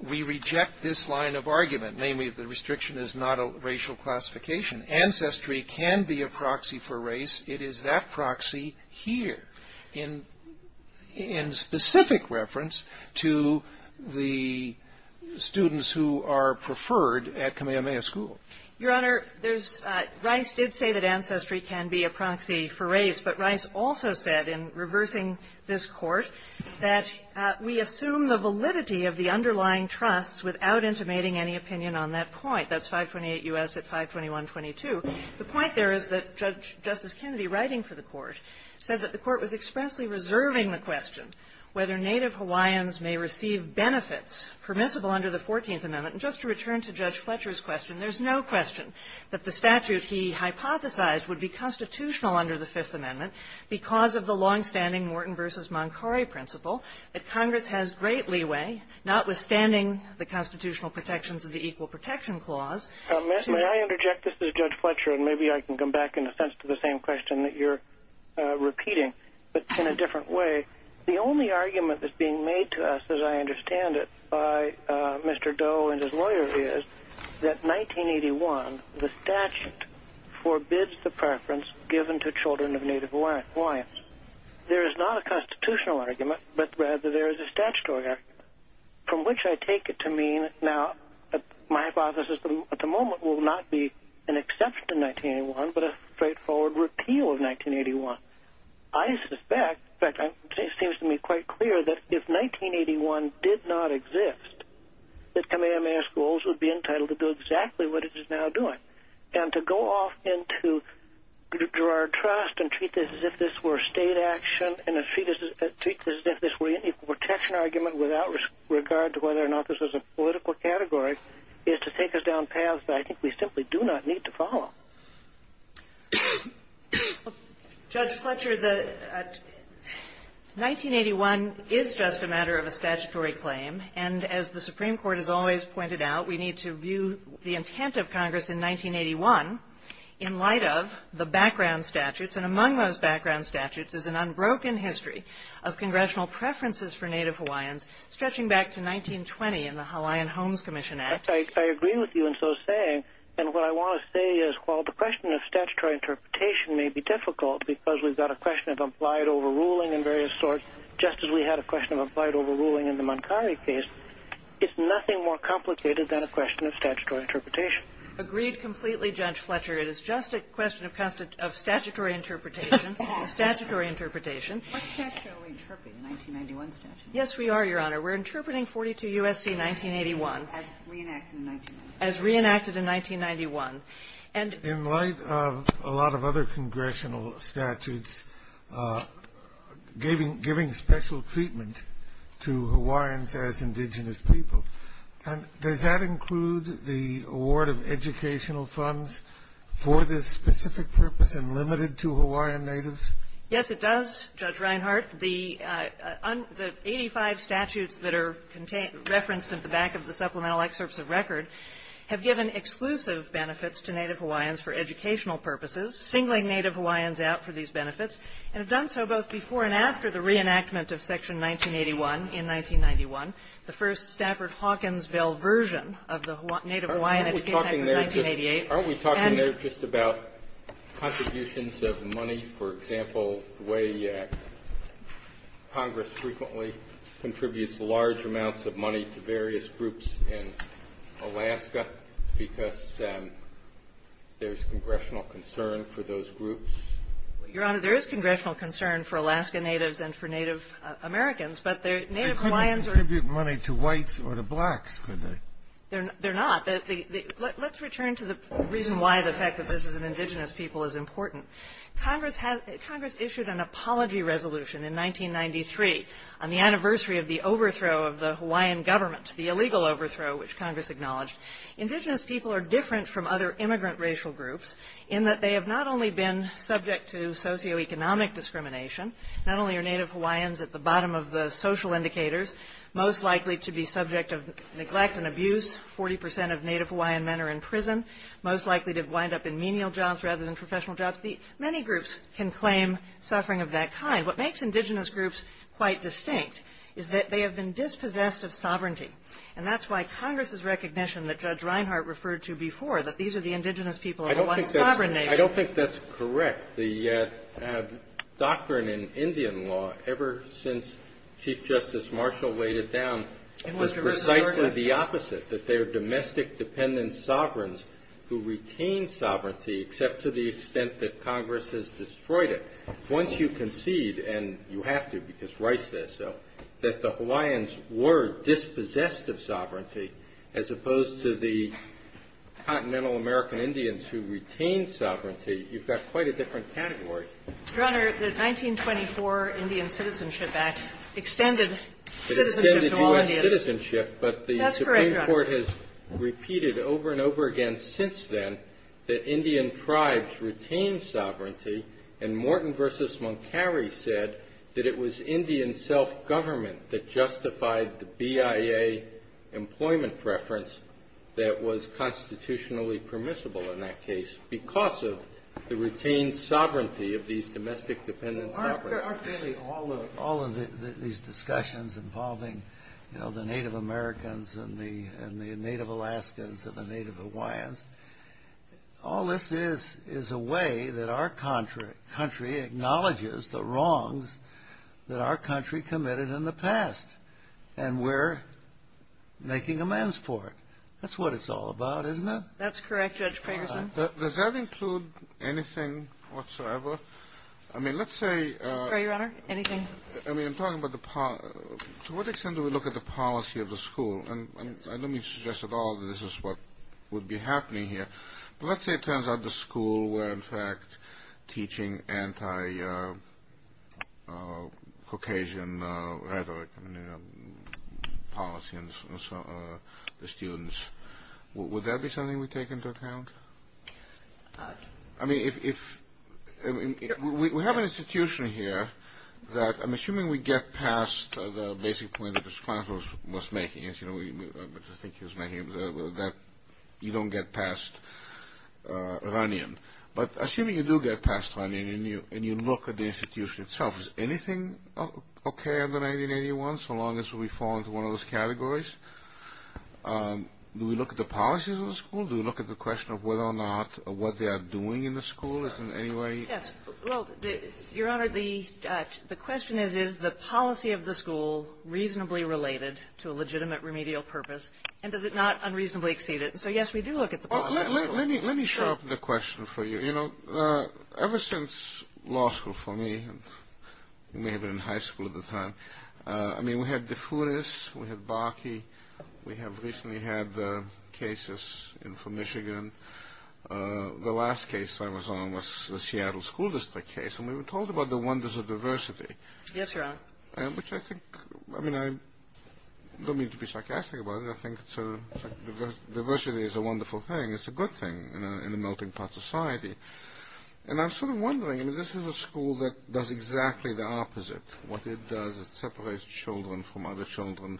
we reject this line of argument, namely the restriction is not a racial classification. Ancestry can be a proxy for race. It is that proxy here in specific reference to the students who are preferred at Kamehameha School. Your Honor, there's Rice did say that ancestry can be a proxy for race, but Rice also said in reversing this Court that we assume the validity of the underlying trusts without intimating any opinion on that point. That's 528 U.S. at 521.22. The point there is that Judge Justice Kennedy, writing for the Court, said that the Court was expressly reserving the question whether Native Hawaiians may receive benefits permissible under the Fourteenth Amendment. And just to return to Judge Fletcher's question, there's no question that the statute he hypothesized would be constitutional under the Fifth Amendment because of the longstanding Morton v. Moncari principle that Congress has great leeway, notwithstanding the constitutional protections of the Equal Protection Clause. May I interject? This is Judge Fletcher, and maybe I can come back in a sense to the same question that you're repeating, but in a different way. The only argument that's being made to us, as I understand it, by Mr. Doe and his argument, is that the statute forbids the preference given to children of Native Hawaiians. There is not a constitutional argument, but rather there is a statutory argument, from which I take it to mean, now my hypothesis at the moment will not be an exception to 1981, but a straightforward repeal of 1981. I suspect, in fact it seems to me quite clear that if 1981 did not exist, that Kamehameha Schools would be entitled to do exactly what it is now doing. And to go off and to draw our trust and treat this as if this were state action, and to treat this as if this were an equal protection argument without regard to whether or not this was a political category, is to take us down paths that I think we simply do not need to follow. Judge Fletcher, 1981 is just a matter of a statutory claim, and as the Supreme Court has always pointed out, we need to view the intent of Congress in 1981 in light of the background statutes, and among those background statutes is an unbroken history of congressional preferences for Native Hawaiians, stretching back to 1920 in the Hawaiian Homes Commission Act. I agree with you in so saying, and what I want to say is, while the question of statutory interpretation may be difficult, because we've got a question of applied overruling and various sorts, just as we had a question of applied overruling in the Moncari case, it's nothing more complicated than a question of statutory interpretation. Agreed completely, Judge Fletcher. It is just a question of statutory interpretation, statutory interpretation. What statute are we interpreting, the 1991 statute? Yes, we are, Your Honor. We're interpreting 42 U.S.C. 1981. As reenacted in 1991? As reenacted in 1991. In light of a lot of other congressional statutes giving special treatment to Hawaiians as indigenous people, does that include the award of educational funds for this specific purpose and limited to Hawaiian natives? Yes, it does, Judge Reinhart. The 85 statutes that are referenced at the back of the supplemental excerpts of record have given exclusive benefits to Native Hawaiians for educational purposes, singling Native Hawaiians out for these benefits, and have done so both before and after the reenactment of Section 1981 in 1991, the first Stafford-Hawkinsville version of the Native Hawaiian Education Act of 1988. Aren't we talking there just about contributions of money, for example, the way Congress frequently contributes large amounts of money to various groups in Alaska because there's congressional concern for those groups? Your Honor, there is congressional concern for Alaska Natives and for Native Americans, but the Native Hawaiians are -- They couldn't contribute money to whites or to blacks, could they? They're not. Let's return to the reason why the fact that this is an indigenous people is important. Congress issued an apology resolution in 1993 on the anniversary of the overthrow of the Hawaiian government, the illegal overthrow which Congress acknowledged. Indigenous people are different from other immigrant racial groups in that they have not only been subject to socioeconomic discrimination, not only are Native Hawaiians at the bottom of the social indicators most likely to be subject of neglect and abuse, 40 percent of Native Hawaiian men are in prison, most likely to wind up in menial jobs rather than professional jobs. Many groups can claim suffering of that kind. What makes indigenous groups quite distinct is that they have been dispossessed of sovereignty, and that's why Congress's recognition that Judge Reinhart referred to before, that these are the indigenous people of the one sovereign nation. I don't think that's correct. The doctrine in Indian law ever since Chief Justice Marshall laid it down was precisely the opposite, that they are domestic-dependent sovereigns who retain sovereignty except to the extent that Congress has destroyed it. Once you concede, and you have to because Rice says so, that the Hawaiians were dispossessed of sovereignty as opposed to the continental American Indians who retained sovereignty, you've got quite a different category. Your Honor, the 1924 Indian Citizenship Act extended citizenship to all Indians. The Court has repeated over and over again since then that Indian tribes retained sovereignty, and Morton v. Moncari said that it was Indian self-government that justified the BIA employment preference that was constitutionally permissible in that case because of the retained sovereignty All of these discussions involving, you know, the Native Americans and the Native Alaskans and the Native Hawaiians, all this is is a way that our country acknowledges the wrongs that our country committed in the past, and we're making amends for it. That's what it's all about, isn't it? That's correct, Judge Ferguson. Does that include anything whatsoever? I mean, let's say... I'm sorry, Your Honor, anything? I mean, I'm talking about the policy. To what extent do we look at the policy of the school? And I don't mean to suggest at all that this is what would be happening here, but let's say it turns out the school were, in fact, teaching anti-Caucasian rhetoric and policy to the students. Would that be something we take into account? I mean, if... We have an institution here that, I'm assuming we get past the basic point that this client was making, which I think he was making, that you don't get past run-in. But assuming you do get past run-in and you look at the institution itself, is anything okay under 1981 so long as we fall into one of those categories? Do we look at the policies of the school? Do we look at the question of whether or not what they are doing in the school is in any way... Yes. Well, Your Honor, the question is, is the policy of the school reasonably related to a legitimate remedial purpose, and does it not unreasonably exceed it? And so, yes, we do look at the policy of the school. Let me sharpen the question for you. You know, ever since law school for me, and you may have been in high school at the time, I mean, we had DeFouris, we had Barkey, we have recently had the cases in for Michigan. The last case I was on was the Seattle School District case, and we were told about the wonders of diversity. Yes, Your Honor. Which I think, I mean, I don't mean to be sarcastic about it. I think diversity is a wonderful thing. It's a good thing in a melting pot society. And I'm sort of wondering, I mean, this is a school that does exactly the opposite. What it does is it separates children from other children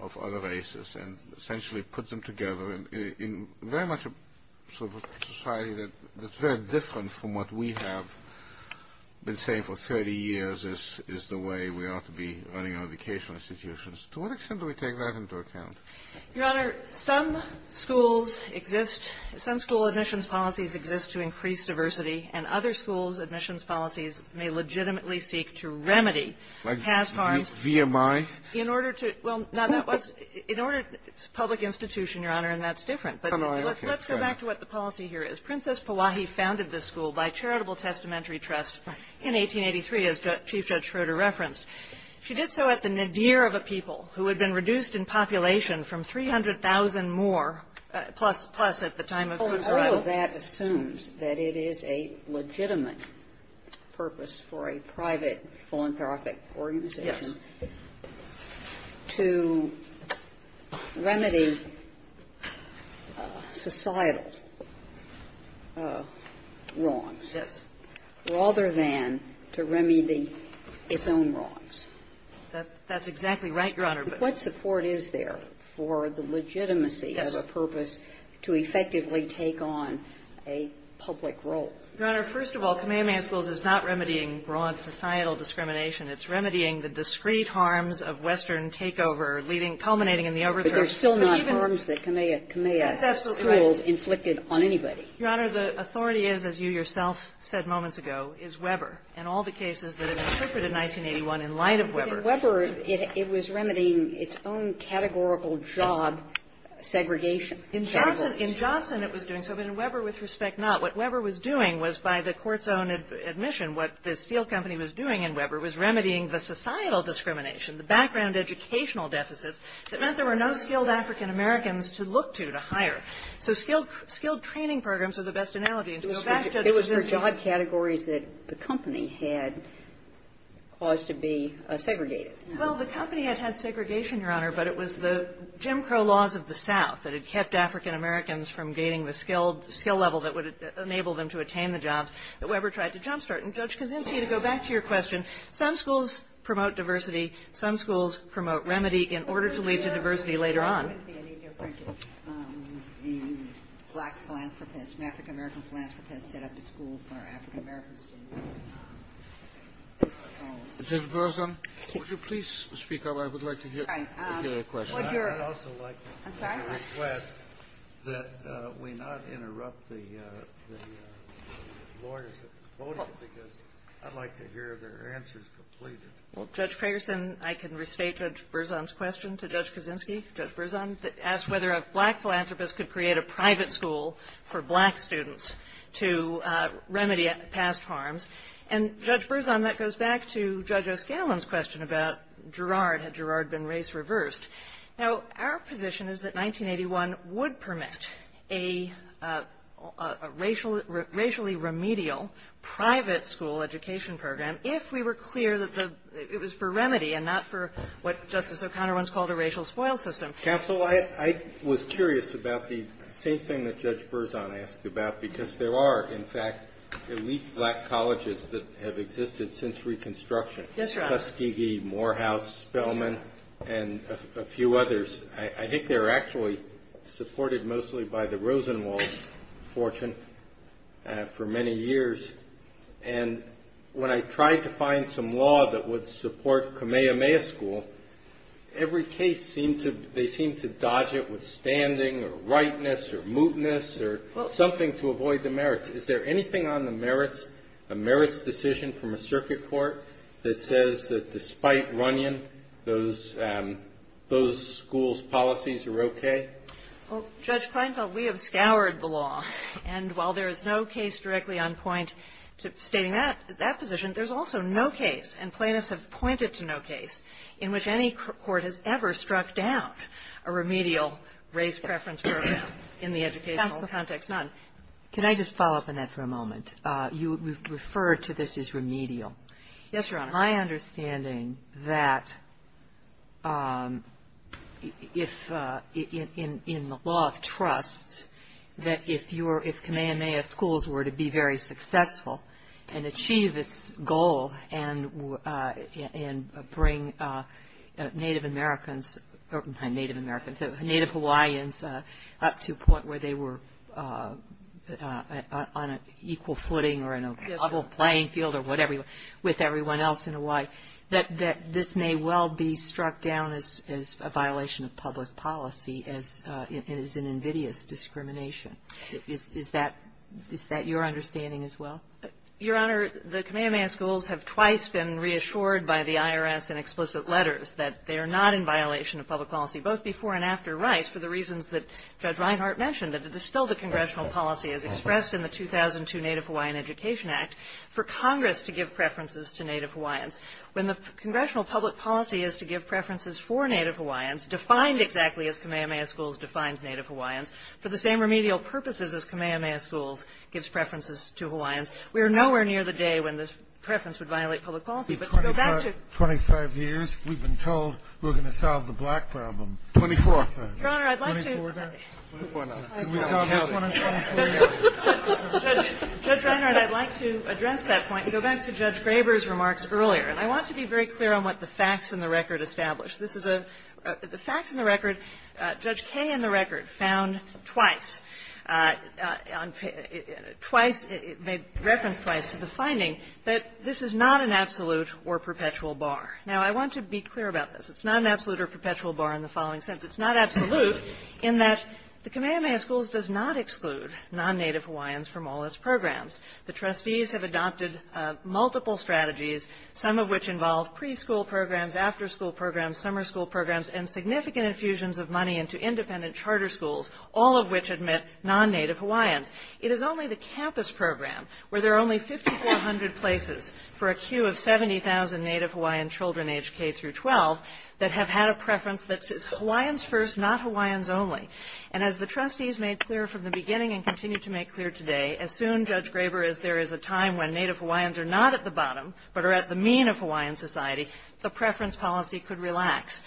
of other races and essentially puts them together. And in very much a sort of a society that's very different from what we have been saying for 30 years is the way we ought to be running our educational institutions. To what extent do we take that into account? Your Honor, some schools exist, some school admissions policies exist to increase diversity, and other schools' admissions policies may legitimately seek to remedy past harms. Like VMI? In order to – well, no, that was – in order – it's a public institution, Your Honor, and that's different. But let's go back to what the policy here is. Princess Powahi founded this school by charitable testamentary trust in 1883, as Chief Judge Schroeder referenced. She did so at the nadir of a people who had been reduced in population from 300,000 more, plus at the time of her arrival. So all of that assumes that it is a legitimate purpose for a private philanthropic organization to remedy societal wrongs rather than to remedy its own wrongs. That's exactly right, Your Honor. But what support is there for the legitimacy of a purpose to effectively take on a public role? Your Honor, first of all, Kamehameha Schools is not remedying broad societal discrimination. It's remedying the discrete harms of Western takeover leading – culminating in the overthrow. But even – But there's still not harms that Kamehameha Schools inflicted on anybody. Your Honor, the authority is, as you yourself said moments ago, is Weber. And all the cases that have been interpreted in 1981 in light of Weber – In Johnson, it was doing so. But in Weber, with respect, not. What Weber was doing was, by the Court's own admission, what the Steele Company was doing in Weber was remedying the societal discrimination, the background educational deficits that meant there were no skilled African-Americans to look to to hire. So skilled training programs are the best analogy. And to go back, Judge, it was this – It was for job categories that the company had caused to be segregated. Well, the company had had segregation, Your Honor. But it was the Jim Crow laws of the South that had kept African-Americans from gaining the skilled – skill level that would enable them to attain the jobs that Weber tried to jumpstart. And, Judge Kosinski, to go back to your question, some schools promote diversity. Some schools promote remedy in order to lead to diversity later on. I wouldn't be any different if a black philanthropist, an African-American philanthropist, set up a school for African-American students. Judge Berzon, would you please speak up? I would like to hear your question. I would also like to request that we not interrupt the lawyers at the podium because I'd like to hear their answers completed. Well, Judge Craigerson, I can restate Judge Berzon's question to Judge Kosinski. Judge Berzon asked whether a black philanthropist could create a private school for black students to remedy past harms. And, Judge Berzon, that goes back to Judge O'Scallion's question about Girard. Had Girard been race-reversed? Now, our position is that 1981 would permit a racially remedial private school education program if we were clear that it was for remedy and not for what Justice O'Connor once called a racial spoil system. Counsel, I was curious about the same thing that Judge Berzon asked about because there are, in fact, elite black colleges that have existed since Reconstruction. Yes, Your Honor. Tuskegee, Morehouse, Spelman, and a few others. I think they're actually supported mostly by the Rosenwald fortune for many years. And when I tried to find some law that would support Kamehameha School, every case seemed to be, they seemed to dodge it with standing or rightness or mootness or something to avoid the merits. Is there anything on the merits, a merits decision from a circuit court that says that despite Runyon, those schools' policies are okay? Well, Judge Kleinfeld, we have scoured the law. And while there is no case directly on point stating that position, there's also no case, and plaintiffs have pointed to no case, in which any court has ever struck down a remedial race preference program in the educational context, none. Counsel, can I just follow up on that for a moment? You referred to this as remedial. Yes, Your Honor. My understanding that if, in the law of trust, that if Kamehameha Schools were to be very successful and achieve its goal and bring Native Americans, not Native Americans, Native Hawaiians up to a point where they were on an equal footing or in a level playing field or whatever, with everyone else in Hawaii, that this may well be struck down as a violation of public policy as an invidious discrimination. Is that your understanding as well? Your Honor, the Kamehameha Schools have twice been reassured by the IRS in explicit letters that they are not in violation of public policy, both before and after Rice for the reasons that Judge Reinhart mentioned, that it is still the congressional policy as expressed in the 2002 Native Hawaiian Education Act. For Congress to give preferences to Native Hawaiians. When the congressional public policy is to give preferences for Native Hawaiians, defined exactly as Kamehameha Schools defines Native Hawaiians, for the same remedial purposes as Kamehameha Schools gives preferences to Hawaiians, we are nowhere near the day when this preference would violate public policy. But to go back to 25 years, we've been told we're going to solve the black problem. Twenty-fourth, then. Your Honor, I'd like to Can we solve this one in 2048? Judge Reinhart, I'd like to address that point and go back to Judge Graber's remarks earlier. And I want to be very clear on what the facts in the record establish. This is a the facts in the record. Judge Kaye in the record found twice, twice, made reference twice to the finding that this is not an absolute or perpetual bar. Now, I want to be clear about this. It's not an absolute or perpetual bar in the following sense. It's not absolute in that the Kamehameha Schools does not exclude non-Native Hawaiians from all its programs. The trustees have adopted multiple strategies, some of which involve preschool programs, after-school programs, summer school programs, and significant infusions of money into independent charter schools, all of which admit non-Native Hawaiians. It is only the campus program, where there are only 5,400 places for a queue of 70,000 Native Hawaiian children aged K-12 that have had a preference that's Hawaiians first, not Hawaiians only. And as the trustees made clear from the beginning and continue to make clear today, as soon, Judge Graber, as there is a time when Native Hawaiians are not at the bottom but are at the mean of Hawaiian society, the preference policy could relax.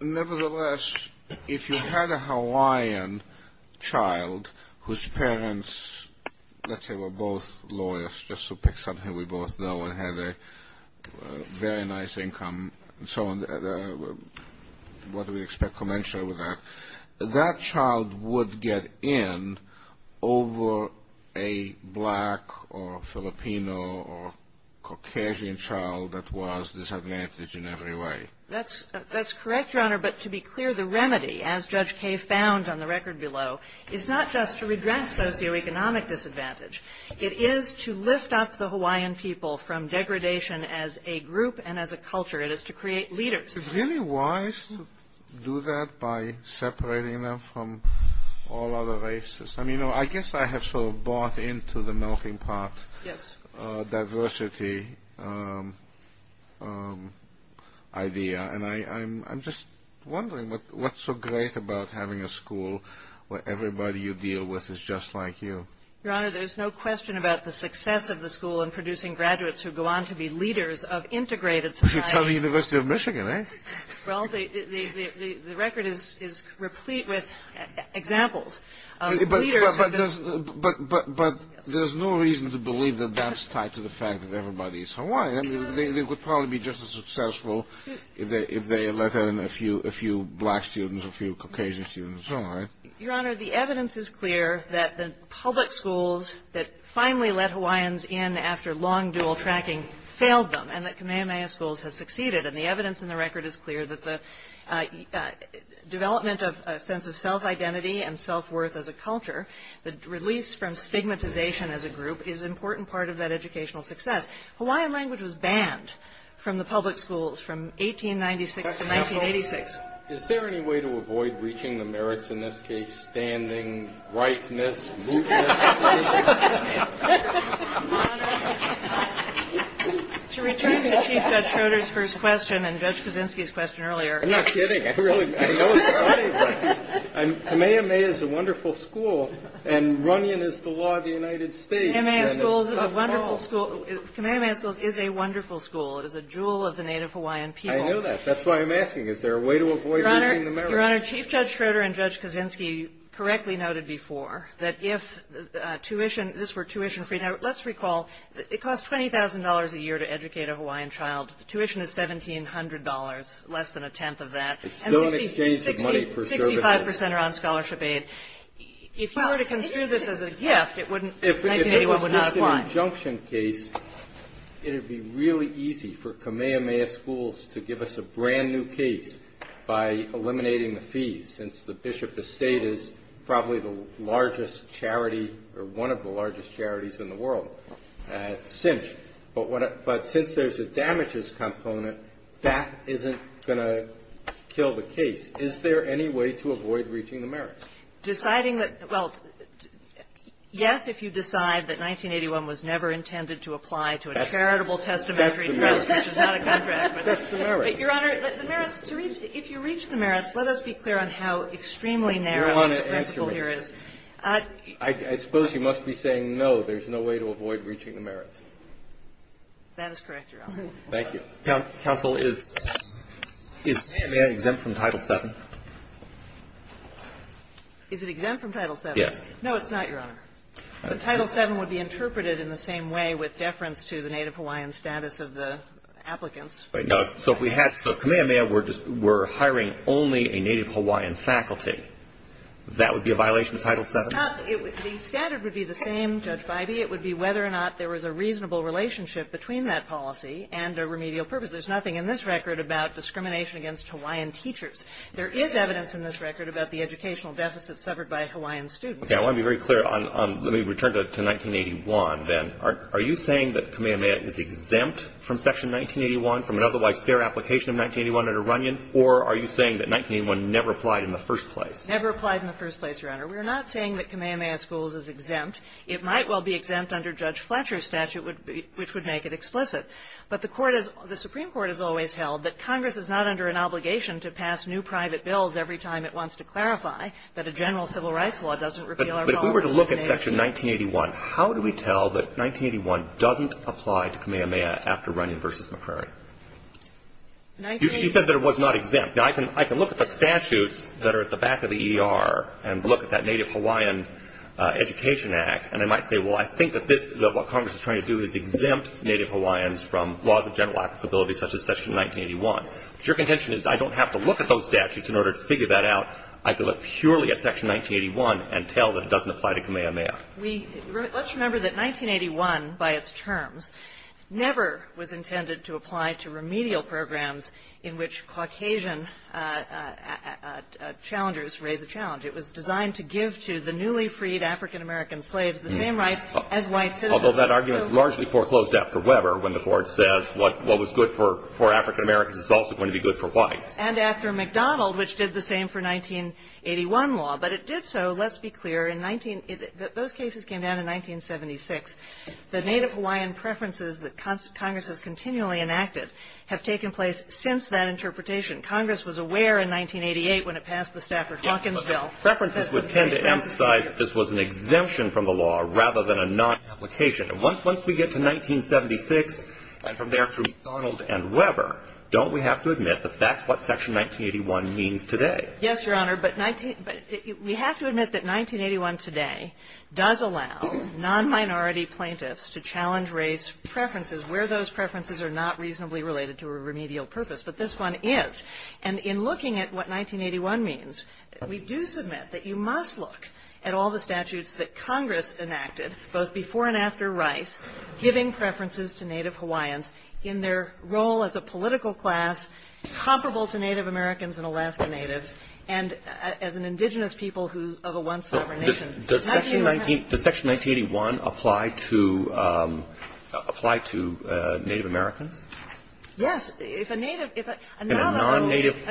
Nevertheless, if you had a Hawaiian child whose parents, let's say, were both lawyers, just to pick something we both know, and had a very nice income, so what do we expect conventionally with that, that child would get in over a black or Filipino or Caucasian child that was disadvantaged in every way. That's correct, Your Honor, but to be clear, the remedy, as Judge Kaye found on the record below, is not just to redress socioeconomic disadvantage. It is to lift up the Hawaiian people from degradation as a group and as a culture. It is to create leaders. It's really wise to do that by separating them from all other races. I mean, I guess I have sort of bought into the melting pot diversity idea, and I'm just wondering what's so great about having a school where everybody you deal with is just like you. Your Honor, there's no question about the success of the school in producing graduates who go on to be leaders of integrated society. You're telling the University of Michigan, eh? Well, the record is replete with examples of leaders. But there's no reason to believe that that's tied to the fact that everybody is Hawaiian. I mean, they would probably be just as successful if they let in a few black students, a few Caucasian students, and so on, right? Your Honor, the evidence is clear that the public schools that finally let Hawaiians in after long dual tracking failed them, and that Kamehameha Schools has succeeded. And the evidence in the record is clear that the development of a sense of self-identity and self-worth as a culture, the release from stigmatization as a group, is an important part of that educational success. Hawaiian language was banned from the public schools from 1896 to 1986. Is there any way to avoid reaching the merits, in this case, standing, rightness, mootness? Your Honor, to return to Chief Judge Schroeder's first question and Judge Kaczynski's question earlier. I'm not kidding. I know it's funny, but Kamehameha is a wonderful school, and Runyon is the law of the United States. Kamehameha Schools is a wonderful school. It is a jewel of the Native Hawaiian people. I know that. That's why I'm asking. Is there a way to avoid reaching the merits? Your Honor, Chief Judge Schroeder and Judge Kaczynski correctly noted before that if this were tuition-free. Now, let's recall, it costs $20,000 a year to educate a Hawaiian child. Tuition is $1,700, less than a tenth of that. It's still an exchange of money for children. And 65 percent are on scholarship aid. If you were to construe this as a gift, it wouldn't 1981 would not apply. If it was just an injunction case, it would be really easy for Kamehameha Schools to give us a brand-new case by eliminating the fees, since the Bishop Estate is probably the largest charity or one of the largest charities in the world. But since there's a damages component, that isn't going to kill the case. Is there any way to avoid reaching the merits? Deciding that, well, yes, if you decide that 1981 was never intended to apply to a charitable testamentary trust, which is not a contract. That's the merits. But, Your Honor, the merits, if you reach the merits, let us be clear on how extremely narrow the principle here is. You don't want to answer me. I suppose you must be saying, no, there's no way to avoid reaching the merits. That is correct, Your Honor. Thank you. Counsel, is Kamehameha exempt from Title VII? Is it exempt from Title VII? Yes. No, it's not, Your Honor. The Title VII would be interpreted in the same way with deference to the Native Hawaiian status of the applicants. Right. Now, so if we had Kamehameha were hiring only a Native Hawaiian faculty, that would be a violation of Title VII? The standard would be the same, Judge Biby. It would be whether or not there was a reasonable relationship between that policy and a remedial purpose. There's nothing in this record about discrimination against Hawaiian teachers. There is evidence in this record about the educational deficits suffered by Hawaiian students. Okay. I want to be very clear on the return to 1981, then. Are you saying that Kamehameha is exempt from Section 1981 from an otherwise fair application of 1981 under Runyon, or are you saying that 1981 never applied in the first place? Never applied in the first place, Your Honor. We're not saying that Kamehameha Schools is exempt. It might well be exempt under Judge Fletcher's statute, which would make it explicit. But the Supreme Court has always held that Congress is not under an obligation to pass new private bills every time it wants to clarify that a general civil rights law doesn't repeal our policy. But if we were to look at Section 1981, how do we tell that 1981 doesn't apply to Kamehameha after Runyon v. McCrary? You said that it was not exempt. Now, I can look at the statutes that are at the back of the ER and look at that Native Hawaiian Education Act, and I might say, well, I think that this, what Congress is trying to do is exempt Native Hawaiians from laws of general applicability such as Section 1981. But your contention is I don't have to look at those statutes in order to figure that out. I can look purely at Section 1981 and tell that it doesn't apply to Kamehameha. We, let's remember that 1981, by its terms, never was intended to apply to remedial programs in which Caucasian challengers raise a challenge. It was designed to give to the newly freed African-American slaves the same rights as white citizens. Although that argument is largely foreclosed after Weber when the Court says what was good for African-Americans is also going to be good for whites. And after McDonald, which did the same for 1981 law. But it did so, let's be clear, in 19 — those cases came down in 1976. The Native Hawaiian preferences that Congress has continually enacted have taken place since that interpretation. Congress was aware in 1988 when it passed the Stafford-Hunkins bill that the preferences would tend to emphasize that this was an exemption from the law rather than a non-application. And once we get to 1976 and from there to McDonald and Weber, don't we have to admit that that's what Section 1981 means today? Yes, Your Honor. But we have to admit that 1981 today does allow non-minority plaintiffs to challenge race preferences where those preferences are not reasonably related to a remedial purpose. But this one is. And in looking at what 1981 means, we do submit that you must look at all the statutes that Congress enacted, both before and after Rice, giving preferences to Native Hawaiians in their role as a political class comparable to Native Americans and Alaska Natives and as an indigenous people who — of a one sovereign nation. Does Section 19 — does Section 1981 apply to — apply to Native Americans? Yes. If a Native — if a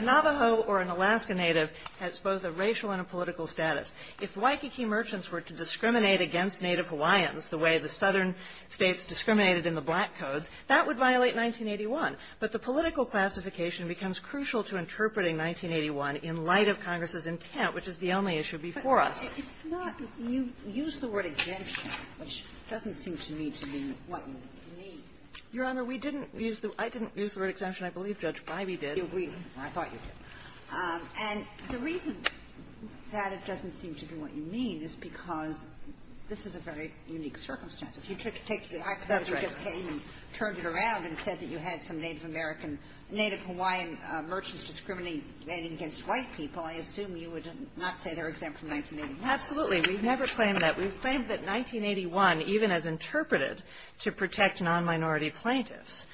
Navajo or an Alaska Native has both a racial and a political status, if Waikiki merchants were to discriminate against Native Hawaiians the way the southern States discriminated in the Black Codes, that would violate 1981. But the political classification becomes crucial to interpreting 1981 in light of Congress's intent, which is the only issue before us. It's not — you use the word exemption, which doesn't seem to me to be what we need. Your Honor, we didn't use the — I didn't use the word exemption. I believe Judge Breybe did. You agreed. I thought you did. And the reason that it doesn't seem to be what you mean is because this is a very unique circumstance. That's right. If you took — I thought you just came and turned it around and said that you had some Native American — Native Hawaiian merchants discriminating against white people, I assume you would not say they're exempt from 1981. Absolutely. We never claim that. We claim that 1981, even as interpreted to protect non-minority plaintiffs,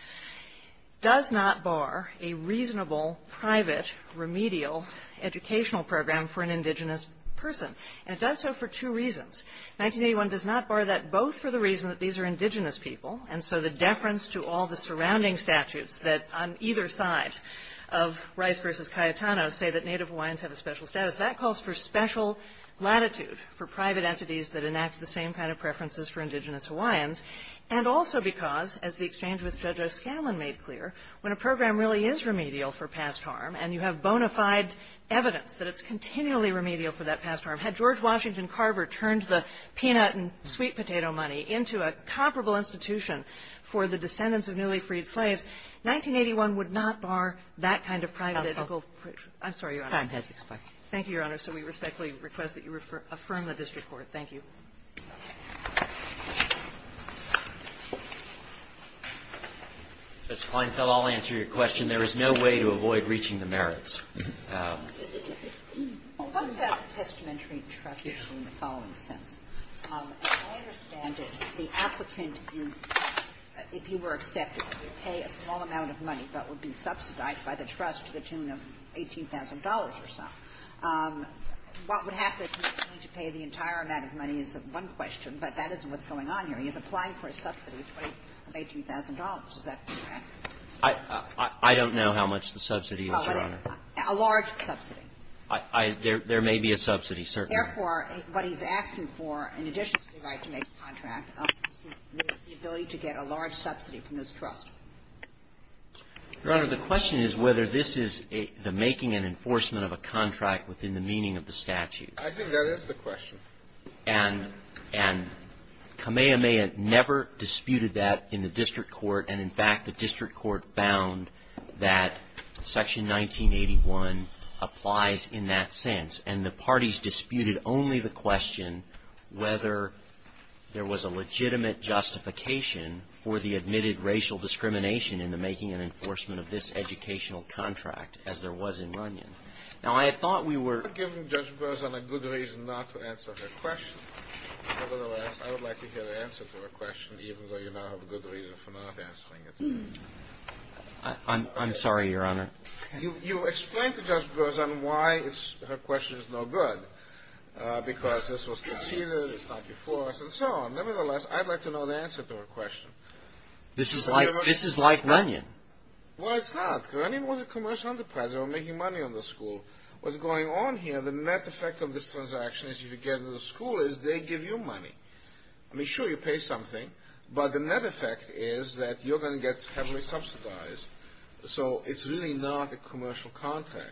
does not bar a reasonable, private, remedial educational program for an indigenous person. And it does so for two reasons. 1981 does not bar that both for the reason that these are indigenous people, and so the deference to all the surrounding statutes that on either side of Rice v. Cayetano say that Native Hawaiians have a special status. Because that calls for special latitude for private entities that enact the same kind of preferences for indigenous Hawaiians, and also because, as the exchange with Judge O'Scallan made clear, when a program really is remedial for past harm, and you have bona fide evidence that it's continually remedial for that past harm, had George Washington Carver turned the peanut and sweet potato money into a comparable institution for the descendants of newly freed slaves, 1981 would not bar that kind of private — Counsel. I'm sorry, Your Honor. The time has expired. Thank you, Your Honor. So we respectfully request that you affirm the district court. Thank you. Mr. Kleinfeld, I'll answer your question. There is no way to avoid reaching the merits. What about the testamentary trust in the following sense? As I understand it, the applicant is, if he were accepted, would pay a small amount of money that would be subsidized by the trust to the tune of $18,000 or so. What would happen if he were to pay the entire amount of money is one question, but that isn't what's going on here. He's applying for a subsidy of $18,000. Is that correct? I don't know how much the subsidy is, Your Honor. A large subsidy. There may be a subsidy, certainly. Therefore, what he's asking for, in addition to the right to make a contract, is the ability to get a large subsidy from this trust. Your Honor, the question is whether this is the making and enforcement of a contract within the meaning of the statute. I think that is the question. And Kamehameha never disputed that in the district court. And, in fact, the district court found that Section 1981 applies in that sense. And the parties disputed only the question whether there was a legitimate justification for the admitted racial discrimination in the making and enforcement of this educational contract as there was in Runyon. Now, I thought we were ---- You're giving Judge Berzon a good reason not to answer her question. Nevertheless, I would like to hear the answer to her question, even though you now have a good reason for not answering it. I'm sorry, Your Honor. You explained to Judge Berzon why her question is no good, because this was conceded, it's not before us, and so on. Nevertheless, I'd like to know the answer to her question. This is like Runyon. Well, it's not. Runyon was a commercial enterprise. They were making money on the school. What's going on here, the net effect of this transaction, if you get into the school, is they give you money. I mean, sure, you pay something. But the net effect is that you're going to get heavily subsidized. So it's really not a commercial contract.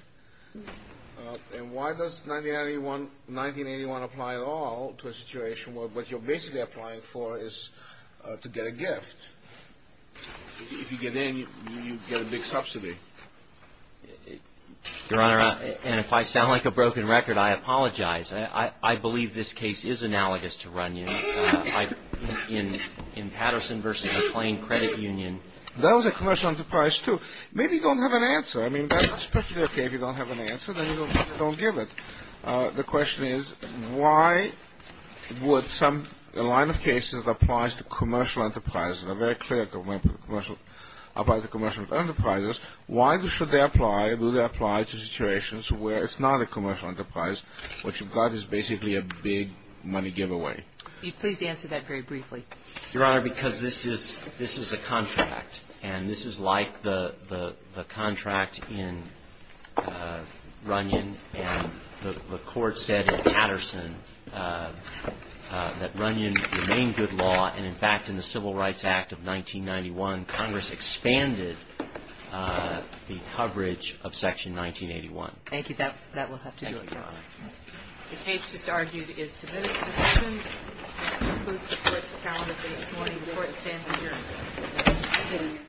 And why does 1981 apply at all to a situation where what you're basically applying for is to get a gift? If you get in, you get a big subsidy. Your Honor, and if I sound like a broken record, I apologize. I believe this case is analogous to Runyon in Patterson v. McLean Credit Union. That was a commercial enterprise, too. Maybe you don't have an answer. I mean, that's perfectly okay if you don't have an answer. Then you don't give it. The question is, why would some line of cases that applies to commercial enterprises, a very clear line about the commercial enterprises, why should they apply? Do they apply to situations where it's not a commercial enterprise? What you've got is basically a big money giveaway. Please answer that very briefly. Your Honor, because this is a contract. And this is like the contract in Runyon. And the Court said in Patterson that Runyon remained good law. And, in fact, in the Civil Rights Act of 1991, Congress expanded the coverage of Section 1981. Thank you. That will have to do it, Your Honor. The case just argued is submitted to decision. That concludes the Court's calendar for this morning. The Court stands adjourned.